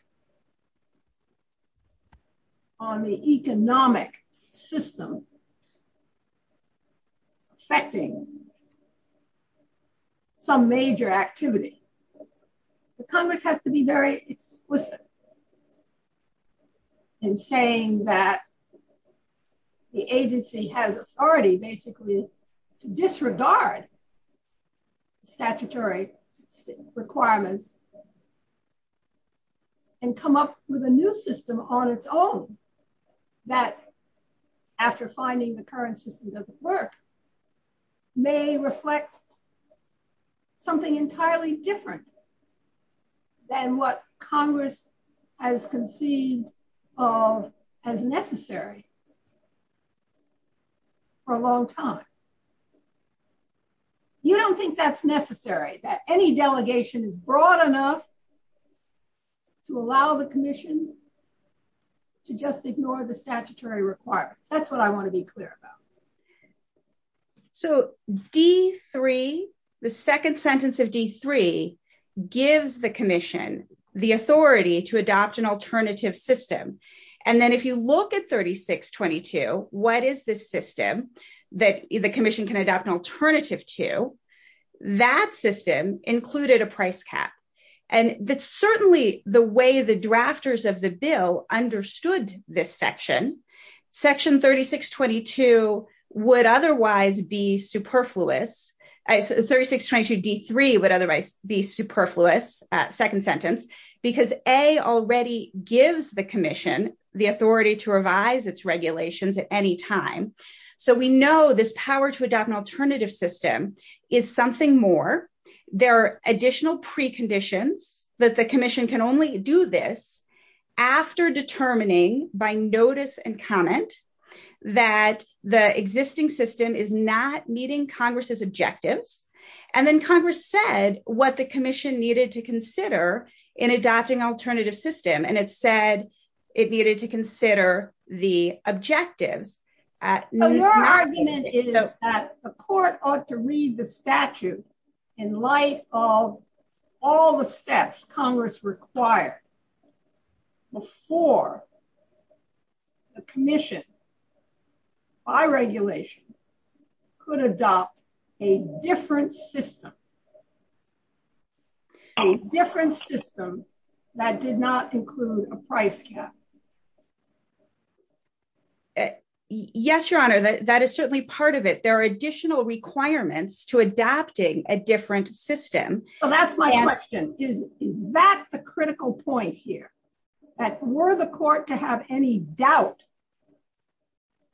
on the economic system, affecting some major activities, the Congress has to be very explicit in saying that the agency has authority basically to disregard statutory requirements and come up with a new system on its own. That after finding the current system doesn't work, may reflect something entirely different than what Congress has conceived of as necessary for a long time. You don't think that's necessary, that any delegation is broad enough to allow the commission to just ignore the statutory requirements? That's what I want to be clear about. So D3, the second sentence of D3 gives the commission the authority to adopt an alternative system. And then if you look at 3622, what is this system that the commission can adopt an alternative to? That system included a price cap. And that's certainly the way the would otherwise be superfluous. 3622 D3 would otherwise be superfluous, second sentence, because A already gives the commission the authority to revise its regulations at any time. So we know this power to adopt an alternative system is something more. There are additional preconditions that the commission can only do this after determining by notice and comment that the existing system is not meeting Congress's objectives. And then Congress said what the commission needed to consider in adopting an alternative system. And it said it needed to consider the objective. Your argument is that the court ought to read the statute in light of all the steps Congress required before the commission by regulation could adopt a different system. A different system that did not include a price cap. Yes, Your Honor, that is certainly part of it. There are additional requirements to adapting a different system. So that's my question. Is that the critical point here? That were the court to have any doubt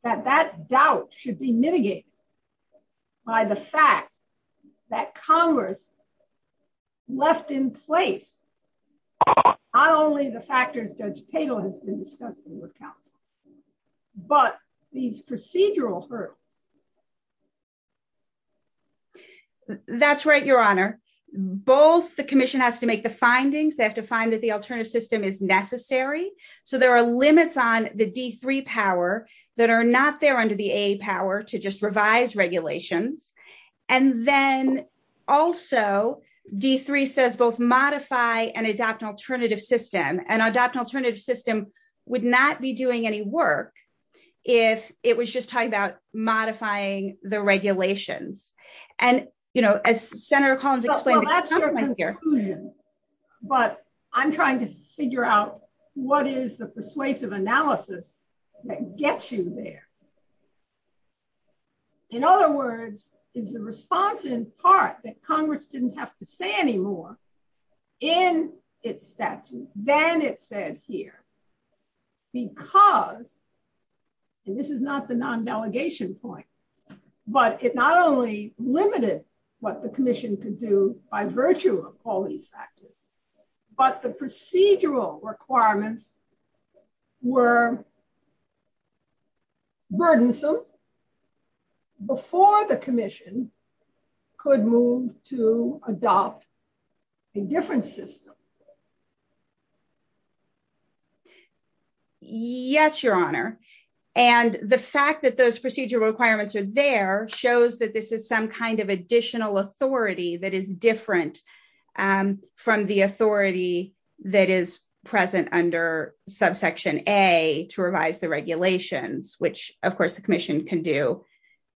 that that doubt should be mitigated by the fact that Congress left in place not only the factors Judge Patel has been discussing with counsel, but these procedural hurdles? That's right, Your Honor. Both the commission has to make the findings. They have to find that the alternative system is necessary. So there are limits on the D3 power that are not there under the AA power to just revise regulation. And then also D3 says both modify and adopt an alternative system. And adopt an alternative system would not be doing any work if it was just modifying the regulation. And, you know, as Senator Collins explained, but I'm trying to figure out what is the persuasive analysis that gets you there. In other words, is the response in part that Congress didn't have to say anymore in its statute than it said here? Because, and this is not the non-delegation point, but it not only limited what the commission could do by virtue of all these factors, but the procedural requirements were burdensome before the commission could move to adopt a different system. Yes, Your Honor. And the fact that those procedural requirements are there shows that this is some kind of additional authority that is different from the authority that is present under subsection A to revise the regulations, which, of course, the commission can do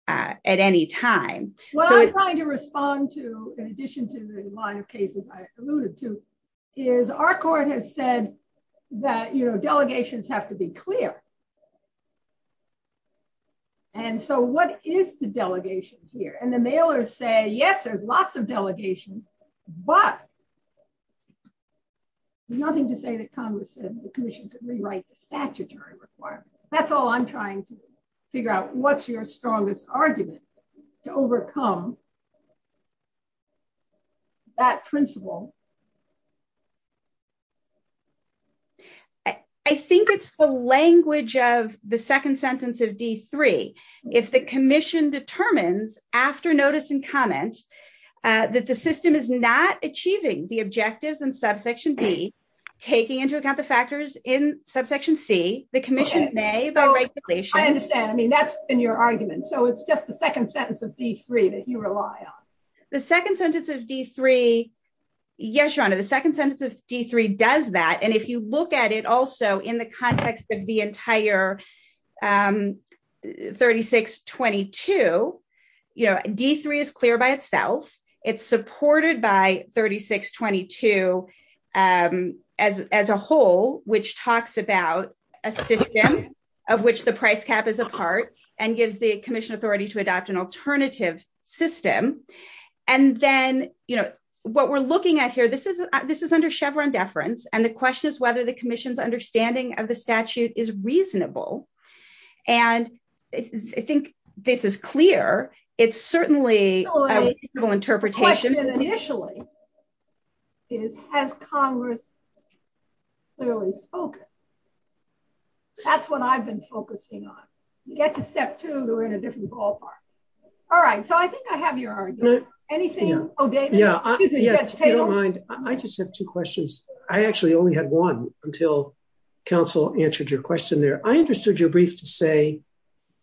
at any time. Well, I'm trying to respond to, in addition to the line of cases I alluded to, is our court has said that, you know, delegations have to be clear. And so what is the delegation here? And the mailers say, yes, there's lots of delegations, but nothing to say that Congress said the commission could rewrite the statutory reform. That's all I'm trying to figure out. What's your strongest argument to overcome that principle? I think it's the language of the second sentence of D3. If the commission determines after notice and comments that the system is not achieving the objectives in subsection D, taking into account the factors in subsection C, the commission may. I understand. I mean, that's in your argument. So it's just the second sentence of D3 that you rely on. The second sentence of D3, yes, Your Honor, the second sentence of D3 does that. And if you look at it also in the context of the entire 3622, you know, D3 is clear by itself. It's supported by 3622 as a whole, which talks about a system of which the price cap is a part and gives the commission authority to adopt an alternative system. And then, you know, what we're looking at here, this is under Chevron deference. And the question is whether the commission's understanding of the statute is reasonable. And I think this is clear. It's certainly a reasonable interpretation. The question initially is, has Congress clearly focused? That's what I've been focusing on. You get to step two, we're in a different ballpark. All right. So I think I have your answer. Anything, oh, David. Yeah. I just have two questions. I actually only had one until counsel answered your question there. I understood your brief to say,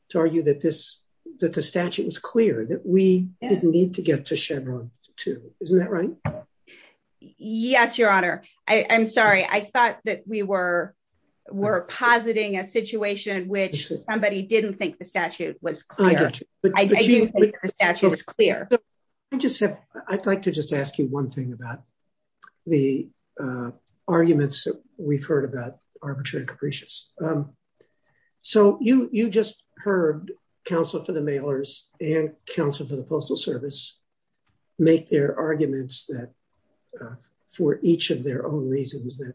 to argue that this, that the statute is clear, that we didn't need to get to Chevron too. Isn't that right? Yes, your honor. I'm sorry. I thought that we were, were positing a situation in which somebody didn't think the statute was clear. I'd like to just ask you one thing about the arguments that we've heard about arbitrary capricious. So you, you just heard counsel for the mailers and counsel for the postal service make their arguments that for each of their own reasons, that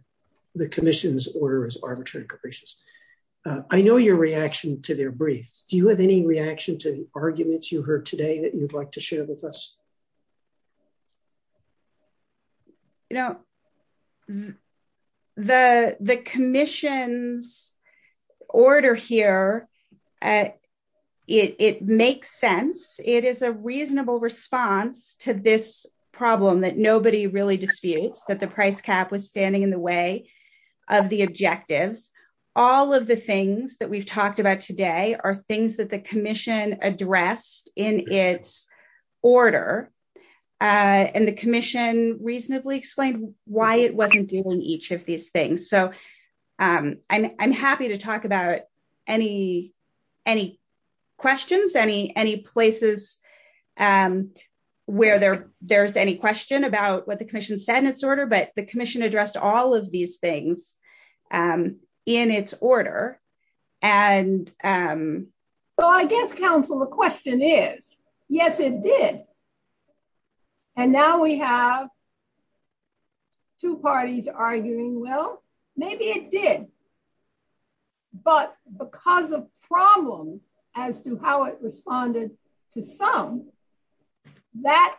the commission's order is arbitrary capricious. I know your reaction to their brief. Do you have any reaction to arguments you heard today that you'd like to share with us? No, the, the commission's order here at it, it makes sense. It is a reasonable response to this problem that nobody really disputes that the price cap was standing in the way of the objective. All of the things that we've talked about today are things that the commission addressed in its order. And the commission reasonably explained why it wasn't doing each of these things. So I'm happy to talk about any, any questions, any, any places where there there's any question about what the commission said in its order, but the commission addressed all of these things in its order. And um, so I guess counsel, the question is, yes, it did. And now we have two parties arguing, well, maybe it did, but because of problems as to how it responded to some, that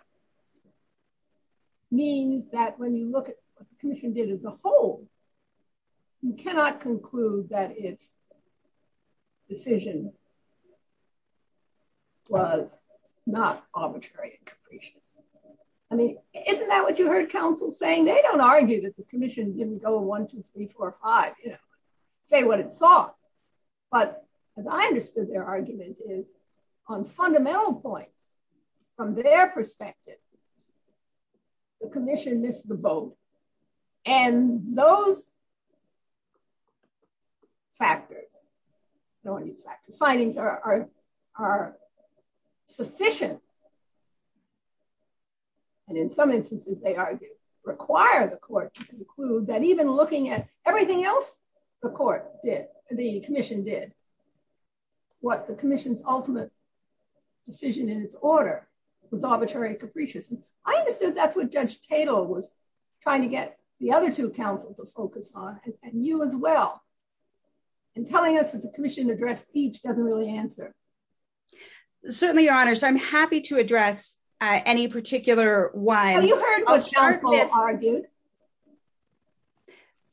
means that when you look at what the commission did as a whole, you cannot conclude that it's decision was not arbitrary. I mean, isn't that what you heard counsel saying? They don't argue that the commission didn't go one, two, three, four, five, they would have thought, but as I understood their argument is on fundamental points from their perspective, the commission missed the boat and those factors, findings are, are, are sufficient. And in some instances, they argue, require the court to conclude that even looking at everything else, the court did, the commission did what the commission's ultimate decision is was arbitrary and capricious. And I understood that's what judge Cato was trying to get the other two councils to focus on and you as well and telling us that the commission addressed each doesn't really answer. Certainly your honor. So I'm happy to address any particular one.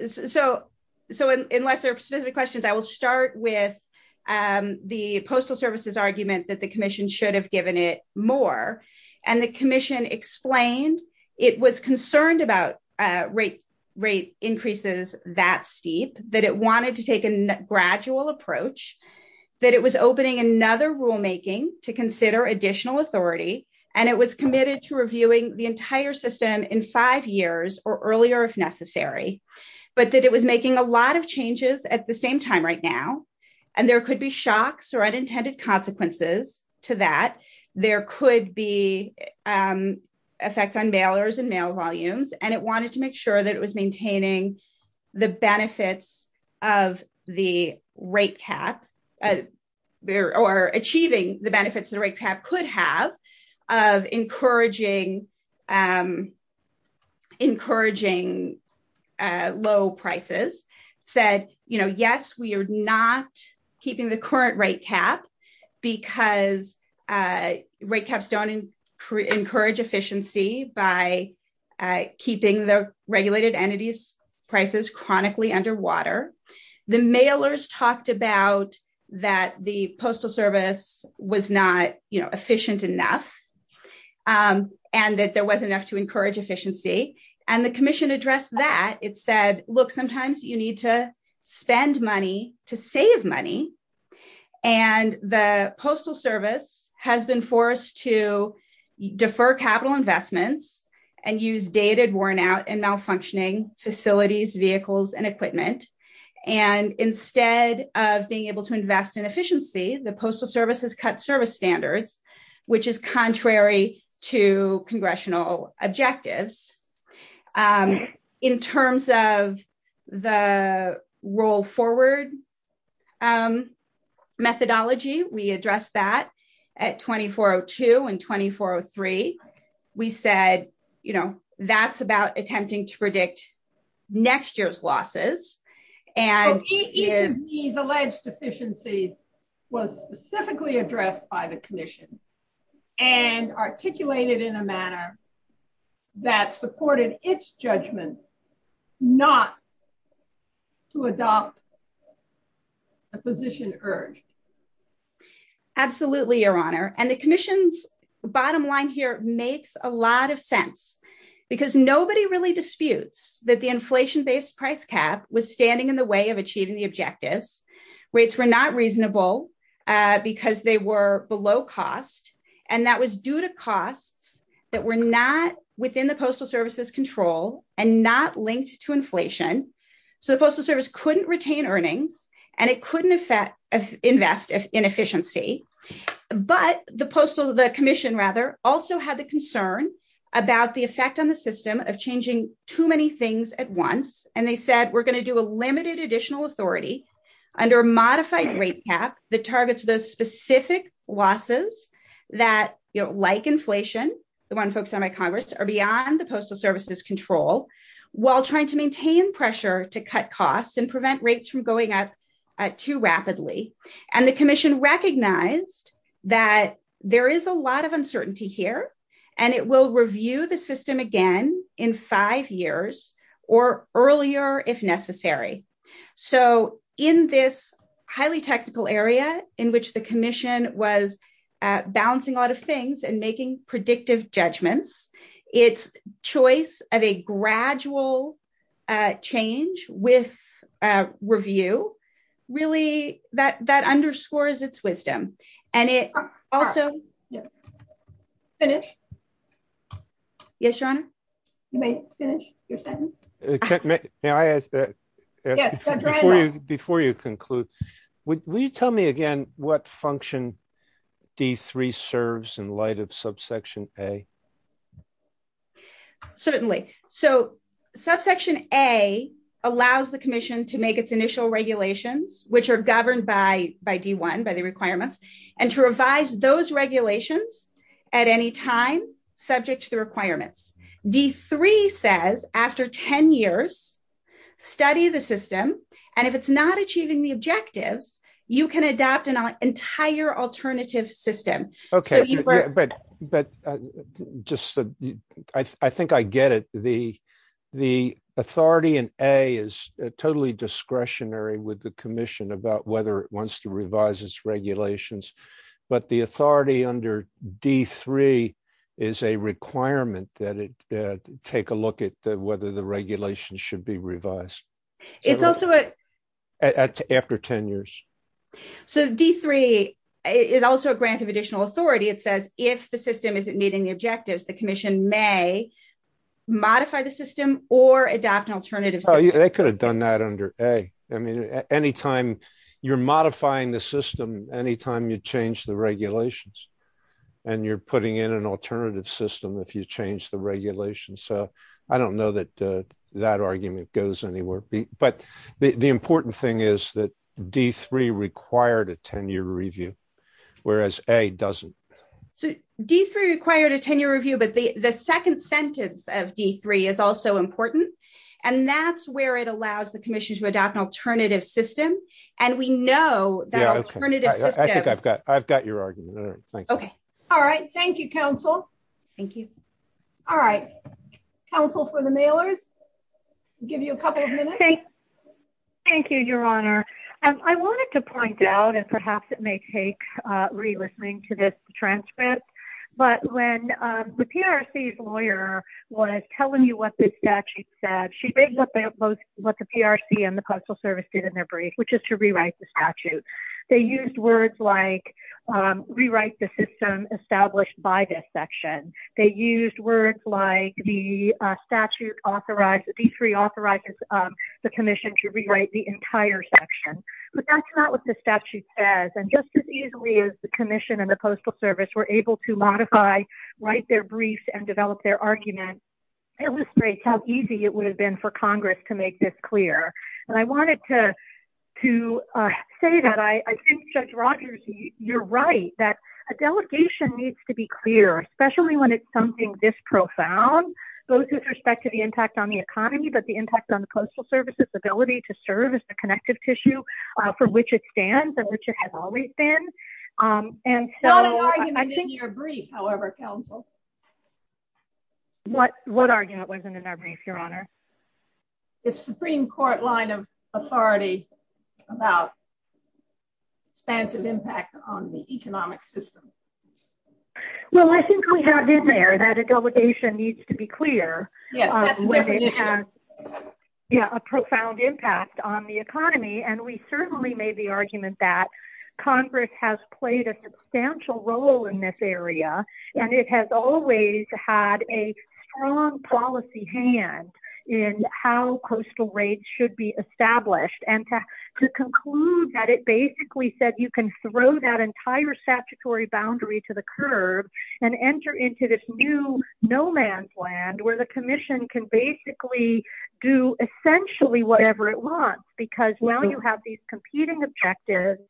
So, so unless there's specific questions, I will start with, um, the postal services argument that commission should have given it more. And the commission explained it was concerned about, uh, rate rate increases that steep that it wanted to take a gradual approach that it was opening another rulemaking to consider additional authority. And it was committed to reviewing the entire system in five years or earlier if necessary, but that it was making a lot of changes at the same time right now. And there could be shocks or unintended consequences to that. There could be, um, effects on mailers and mail volumes, and it wanted to make sure that it was maintaining the benefits of the rate cap there or achieving the benefits of the rate cap could have of encouraging, um, encouraging, uh, low prices said, yes, we are not keeping the current rate cap because, uh, rate caps don't encourage efficiency by, uh, keeping the regulated entities prices chronically underwater. The mailers talked about that the postal service was not efficient enough, um, and that there wasn't enough to encourage efficiency. And the commission addressed that. It said, look, sometimes you need to spend money to save money. And the postal service has been forced to defer capital investments and use dated worn out and malfunctioning facilities, vehicles, and equipment. And instead of being able to invest in efficiency, the postal service has cut service standards, which is contrary to congressional objectives. Um, in terms of the roll forward, um, methodology, we addressed that at 2402 and 2403. We said, you know, that's about attempting to predict next year's losses. And these alleged deficiencies was specifically addressed by the commission and articulated in a manner that supported its judgment, not to adopt a position urge. Absolutely. Your honor. And the commission's bottom line here makes a lot of sense because nobody really disputes that the inflation-based price cap was standing in the way of achieving the objectives, which were not reasonable, uh, because they were below cost. And that was due to costs that were not within the postal services control and not linked to inflation. So the postal service couldn't retain earnings and it couldn't invest in efficiency, but the postal, the commission rather also had the concern about the effect on the system of changing too many things at once. And they said, we're going to do a limited additional authority under a modified rate cap that targets those specific losses that, you know, like inflation, the one folks on my Congress are beyond the postal services control while trying to maintain pressure to cut costs and prevent rates from going up too rapidly. And the commission recognized that there is a lot of uncertainty here and it will review the system again in five years or earlier if necessary. So in this highly technical area in which the commission was, uh, balancing a lot of things and making predictive judgments, it's choice of a gradual, uh, change with, uh, review really that, that underscores its wisdom and it also... Yes, finish. Yes, Sean. You may finish your sentence. May I ask that before you, before you conclude, would you tell me again what function D3 serves in light of subsection A? Certainly. So subsection A allows the commission to make its initial regulations, which are governed by, by D1, by the requirements, and to revise those regulations at any time subject to the requirements. D3 says after 10 years, study the system, and if it's not achieving the objective, you can adapt an entire alternative system. Okay. But just, I think I get it. The, the authority in A is totally discretionary with the commission about whether it wants to revise its regulations, but the authority under D3 is a requirement that it, uh, take a look at the, whether the regulation should be revised. It's also a... After 10 years. So D3 is also a grant of additional authority. It says if the system isn't meeting the objectives, the commission may modify the system or adapt an alternative. They could have done that under A. I mean, any time you're modifying the system, any time you change the regulations and you're putting in an alternative system, if you change the regulation. So I don't know that, uh, that argument goes anywhere, but the important thing is that D3 required a 10-year review, whereas A doesn't. D3 required a 10-year review, but the, the second sentence of D3 is also important, and that's where it allows the commission to adopt an alternative system, and we know that alternative system... I think I've got, I've got your argument. All right. Thank you. Okay. All right. Thank you, counsel. Thank you. All right. Counsel for the mailers, give you a couple of minutes. Okay. Thank you, Your Honor. I wanted to point out, and perhaps it may take, uh, re-listening to this transcript, but when, um, the PRC's lawyer was telling you what the statute said, she may have looked at what the PRC and the Postal Service did in their brief, which is to rewrite the statute. They used words like, um, rewrite the system established by this section. They used words like the, uh, statute authorized, D3 authorized, um, the commission to rewrite the entire section, but that's not what the statute says, and just as easily as the commission and the Postal Service were able to modify, write their briefs, and develop their illustrates how easy it would have been for Congress to make this clear, and I wanted to, to, uh, say that I, I think Judge Rogers, you're right, that a delegation needs to be clear, especially when it's something this profound, both with respect to the impact on the economy, but the impact on the Postal Service's ability to serve as the connective tissue, uh, for which it What, what argument was in their brief, Your Honor? The Supreme Court line of authority about expansive impact on the economic system. Well, I think we have in there that a delegation needs to be clear, yeah, a profound impact on the economy, and we certainly made the argument that and it has always had a strong policy hand in how coastal rates should be established, and to conclude that it basically said you can throw that entire statutory boundary to the curb and enter into this new no man's land where the commission can basically do essentially whatever it wants, because now you have these competing objectives,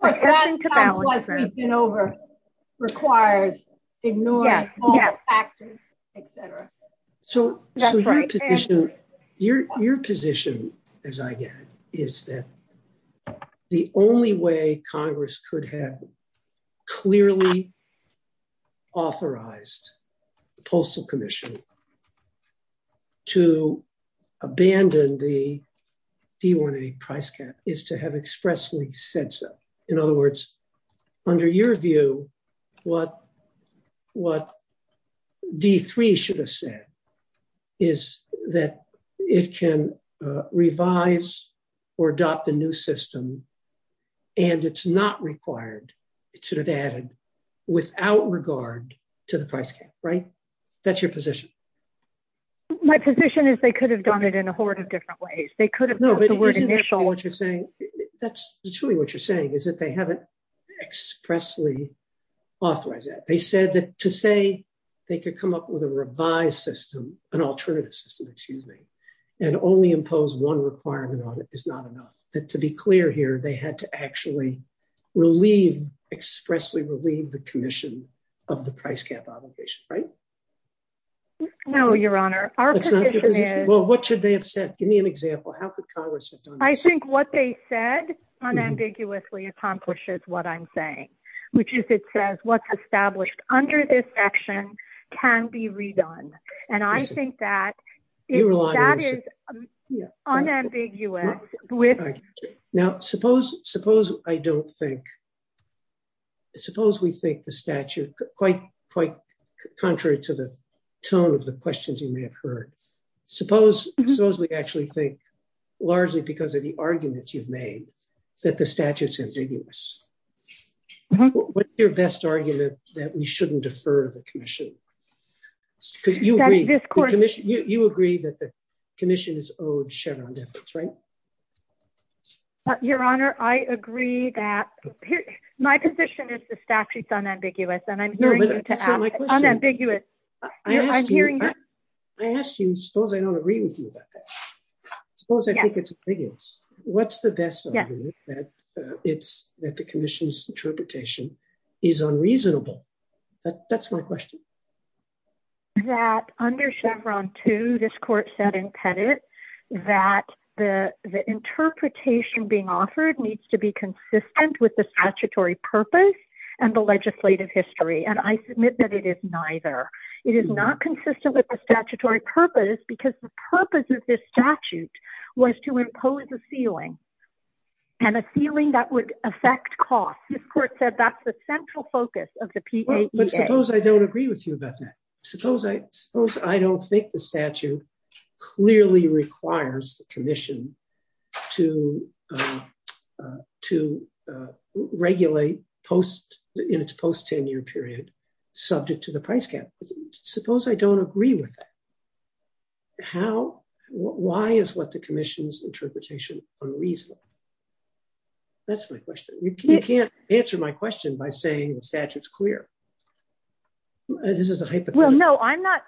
but that in turn requires ignoring all factors, etc. So, so your position, your, your position, as I get it, is that the only way Congress could have clearly authorized the Postal Commission to abandon the D-180 price cap is to have expressly said so. In other words, under your view, what, what D-3 should have said is that it can, uh, revise or adopt a new system, and it's not required, it should have added without regard to the price cap, right? That's your position. My position is they could have done it in a different way. No, but that's really what you're saying is that they haven't expressly authorized that. They said that to say they could come up with a revised system, an alternative system, excuse me, and only impose one requirement on it is not enough, but to be clear here, they had to actually relieve, expressly relieve the commission of the price cap obligation, right? No, Your Honor, our position is... Well, what should they have said? Give me an example. How could Congress have done it? I think what they said unambiguously accomplishes what I'm saying, which is it says what's established under this section can be redone, and I think that, that is unambiguous with... Now, suppose, suppose I don't think, suppose we think the statute, quite, quite contrary to the tone of the questions you may have heard, suppose, suppose we actually think, largely because of the arguments you've made, that the statute's ambiguous. What's your best argument that we shouldn't defer the commission? You agree that the commission is owed shed on debt, right? Your Honor, I agree that, my position is the statute's unambiguous, and I'm hearing you unambiguous. I'm hearing you. I ask you, suppose I don't agree with you about that. Suppose I think it's ambiguous. What's the best argument that it's, that the commission's interpretation is unreasonable? That's my question. That under Chevron 2, this court said in Pettit that the interpretation being offered needs to be consistent with the statutory purpose and the legislative history, and I submit that it is neither. It is not consistent with the statutory purpose, because the purpose of this statute was to impose a ceiling, and a ceiling that would affect costs. This court said that's the central focus of the PAPA. But suppose I don't agree with you about that. Suppose I, suppose I don't think the statute clearly requires the commission to, to regulate post, in its post-tenure period, subject to the price cap. Suppose I don't agree with that. How, why is what the commission's interpretation unreasonable? That's my question. You can't answer my question by saying the statute's clear. This is a hypothetical. Well, no, I'm not,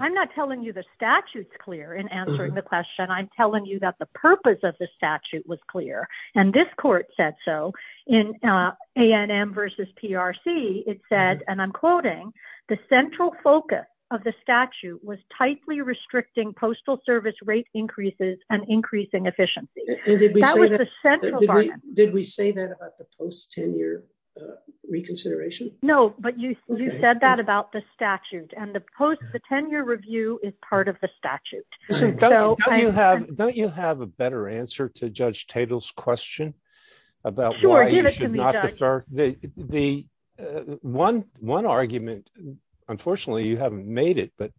I'm not telling you the statute's clear in answering the question. I'm telling you that the purpose of the statute was clear, and this court said so. In A&M versus PRC, it said, and I'm quoting, the central focus of the statute was tightly restricting postal service rate increases and increasing efficiency. That was the central part. Did we say that about the post-tenure reconsideration? No, but you, you said that about the statute, and the post-tenure review is part of the statute. Don't you have, don't you have a better answer to Judge Tatel's question about why it should not be? The one, one argument, unfortunately you haven't made it, but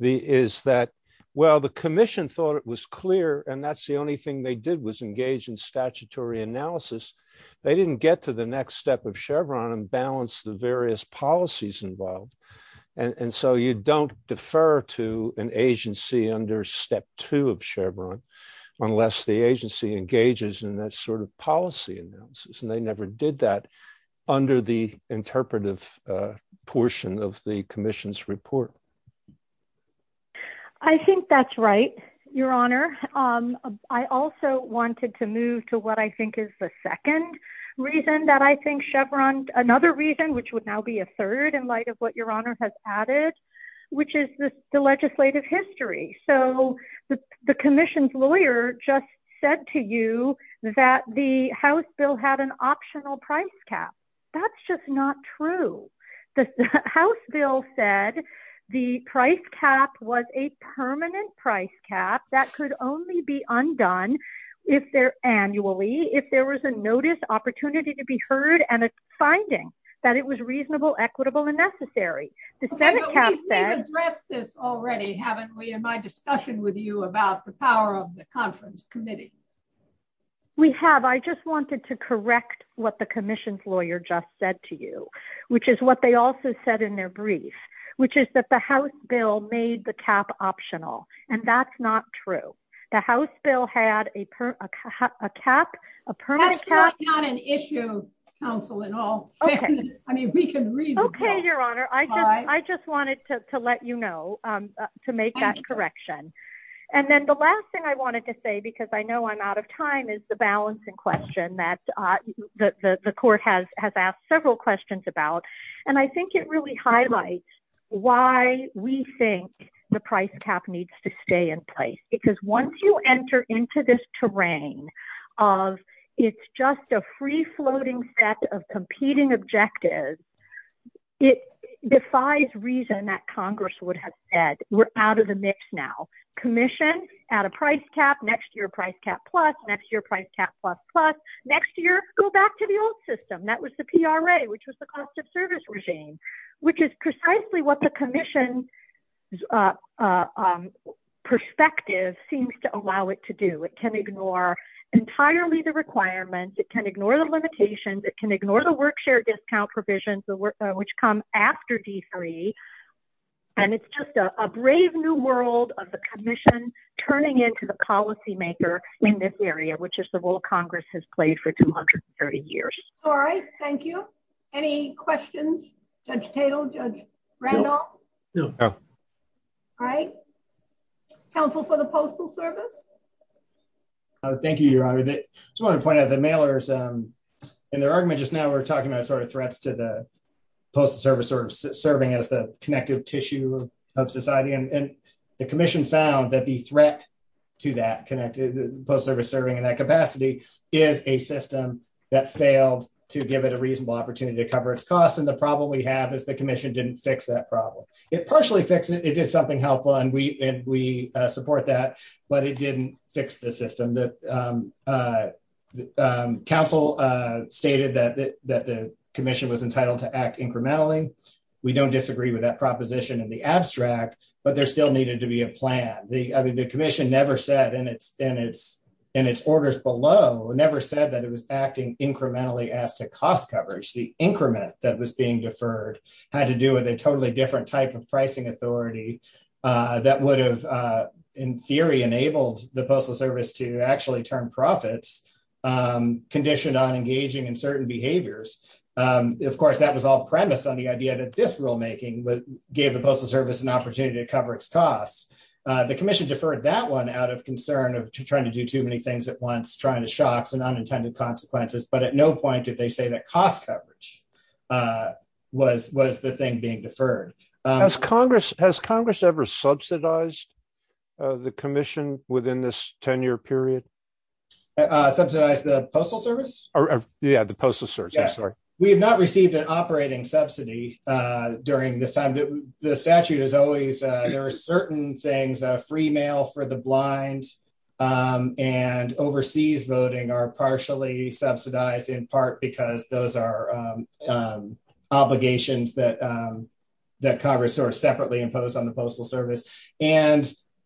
the, is that, well, the commission thought it was clear, and that's the only thing they did, was engage in statutory analysis. They didn't get to the next step of Chevron and balance the various policies involved, and so you don't defer to an agency under step two of Chevron, unless the agency engages in that sort of policy analysis, and they never did that under the interpretive portion of the commission's report. I think that's right, Your Honor. I also wanted to move to what I think is the second reason that I think Chevron, another reason, which would now be a third in light of what Your Honor has added, which is the legislative history. So the commission's lawyer just said to you that the House bill said the price cap was a permanent price cap that could only be undone if there, annually, if there was a notice, opportunity to be heard, and a finding that it was reasonable, equitable, and necessary. The Senate has said... You've addressed this already, haven't we, in my discussion with you about the power of the conference committee. We have. I just wanted to correct what the commission's lawyer just said to you, which is what they also said in their brief, which is that the House bill made the cap optional, and that's not true. The House bill had a cap... That's not an issue, counsel, at all. I mean, we can read the cap. Okay, Your Honor. I just wanted to let you know to make that correction. And then the last thing I wanted to say, because I know I'm out of time, is the about... And I think it really highlights why we think the price cap needs to stay in place, because once you enter into this terrain of it's just a free-floating set of competing objectives, it defies reason that Congress would have said, we're out of the mix now. Commission, add a price cap, next year, price cap plus, next year, price cap plus plus, next year, go back to the old system. That was the PRA, which was the cost of service regime, which is precisely what the commission's perspective seems to allow it to do. It can ignore entirely the requirements. It can ignore the limitations. It can ignore the work share discount provisions, which come after D3. And it's just a brave new world of the commission turning into the policymaker in this area, which is the role Congress has played for 230 years. All right. Thank you. Any questions? Judge Tatel? Judge Randolph? All right. Counsel for the Postal Service? Thank you, Your Honor. I just wanted to point out the mailers and their argument just now, we're talking about threats to the Postal Service or serving as the connective tissue of society. And the commission found that the threat to that connected Postal Service serving in that capacity is a system that failed to give it a reasonable opportunity to cover its costs. And the problem we have is the commission didn't fix that problem. It partially fixed it. It did something helpful, and we support that, but it didn't fix the system. Counsel stated that the commission was entitled to act incrementally. We don't disagree with that proposition in the abstract, but there still needed to be a plan. The commission never said in its orders below, never said that it was acting incrementally as to cost coverage. The increment that was being deferred had to do with a totally different type of pricing authority that would have, in theory, enabled the Postal Service to actually turn profits, conditioned on engaging in certain behaviors. Of course, that was all on the premise on the idea that this rulemaking gave the Postal Service an opportunity to cover its costs. The commission deferred that one out of concern of trying to do too many things at once, trying to shock some unintended consequences, but at no point did they say that cost coverage was the thing being deferred. Has Congress ever subsidized the commission within this 10-year period? Subsidized the Postal Service? Yeah, the Postal Service, I'm sorry. We have not received an operating subsidy during this time. The statute is always, there are certain things, free mail for the blind and overseas voting are partially subsidized in part because those are obligations that Congress separately imposed on the Postal Service.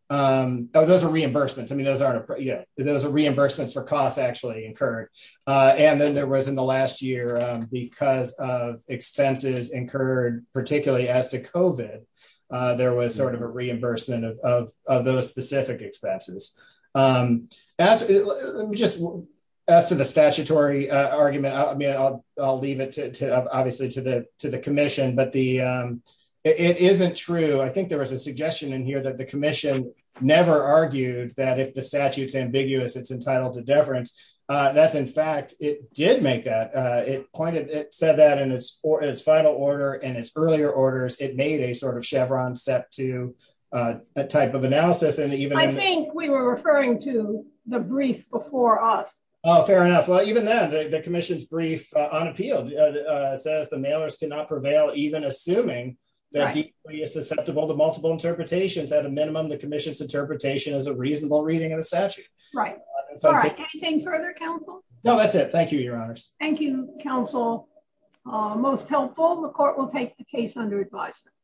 Those are reimbursements. Those are reimbursements for costs actually incurred. Then there was in the last year, because of expenses incurred particularly as to COVID, there was a reimbursement of those specific expenses. As to the statutory argument, I'll leave it obviously to the commission, but it isn't true. I think there was a suggestion in here that the commission never argued that if the statute's ambiguous, it's entitled to deference. That's in fact, it did make that. It pointed, it said that in its final order and its earlier orders, it made a sort of chevron set to a type of analysis. I think we were referring to the brief before us. Oh, fair enough. Well, even then, the commission's brief on appeal says the mailers cannot prevail even assuming that the plea is susceptible to multiple interpretations. At a minimum, the commission's interpretation is a reasonable reading of the statute. Thank you, Your Honor. Thank you, counsel. Most helpful, the court will take the case under advisement.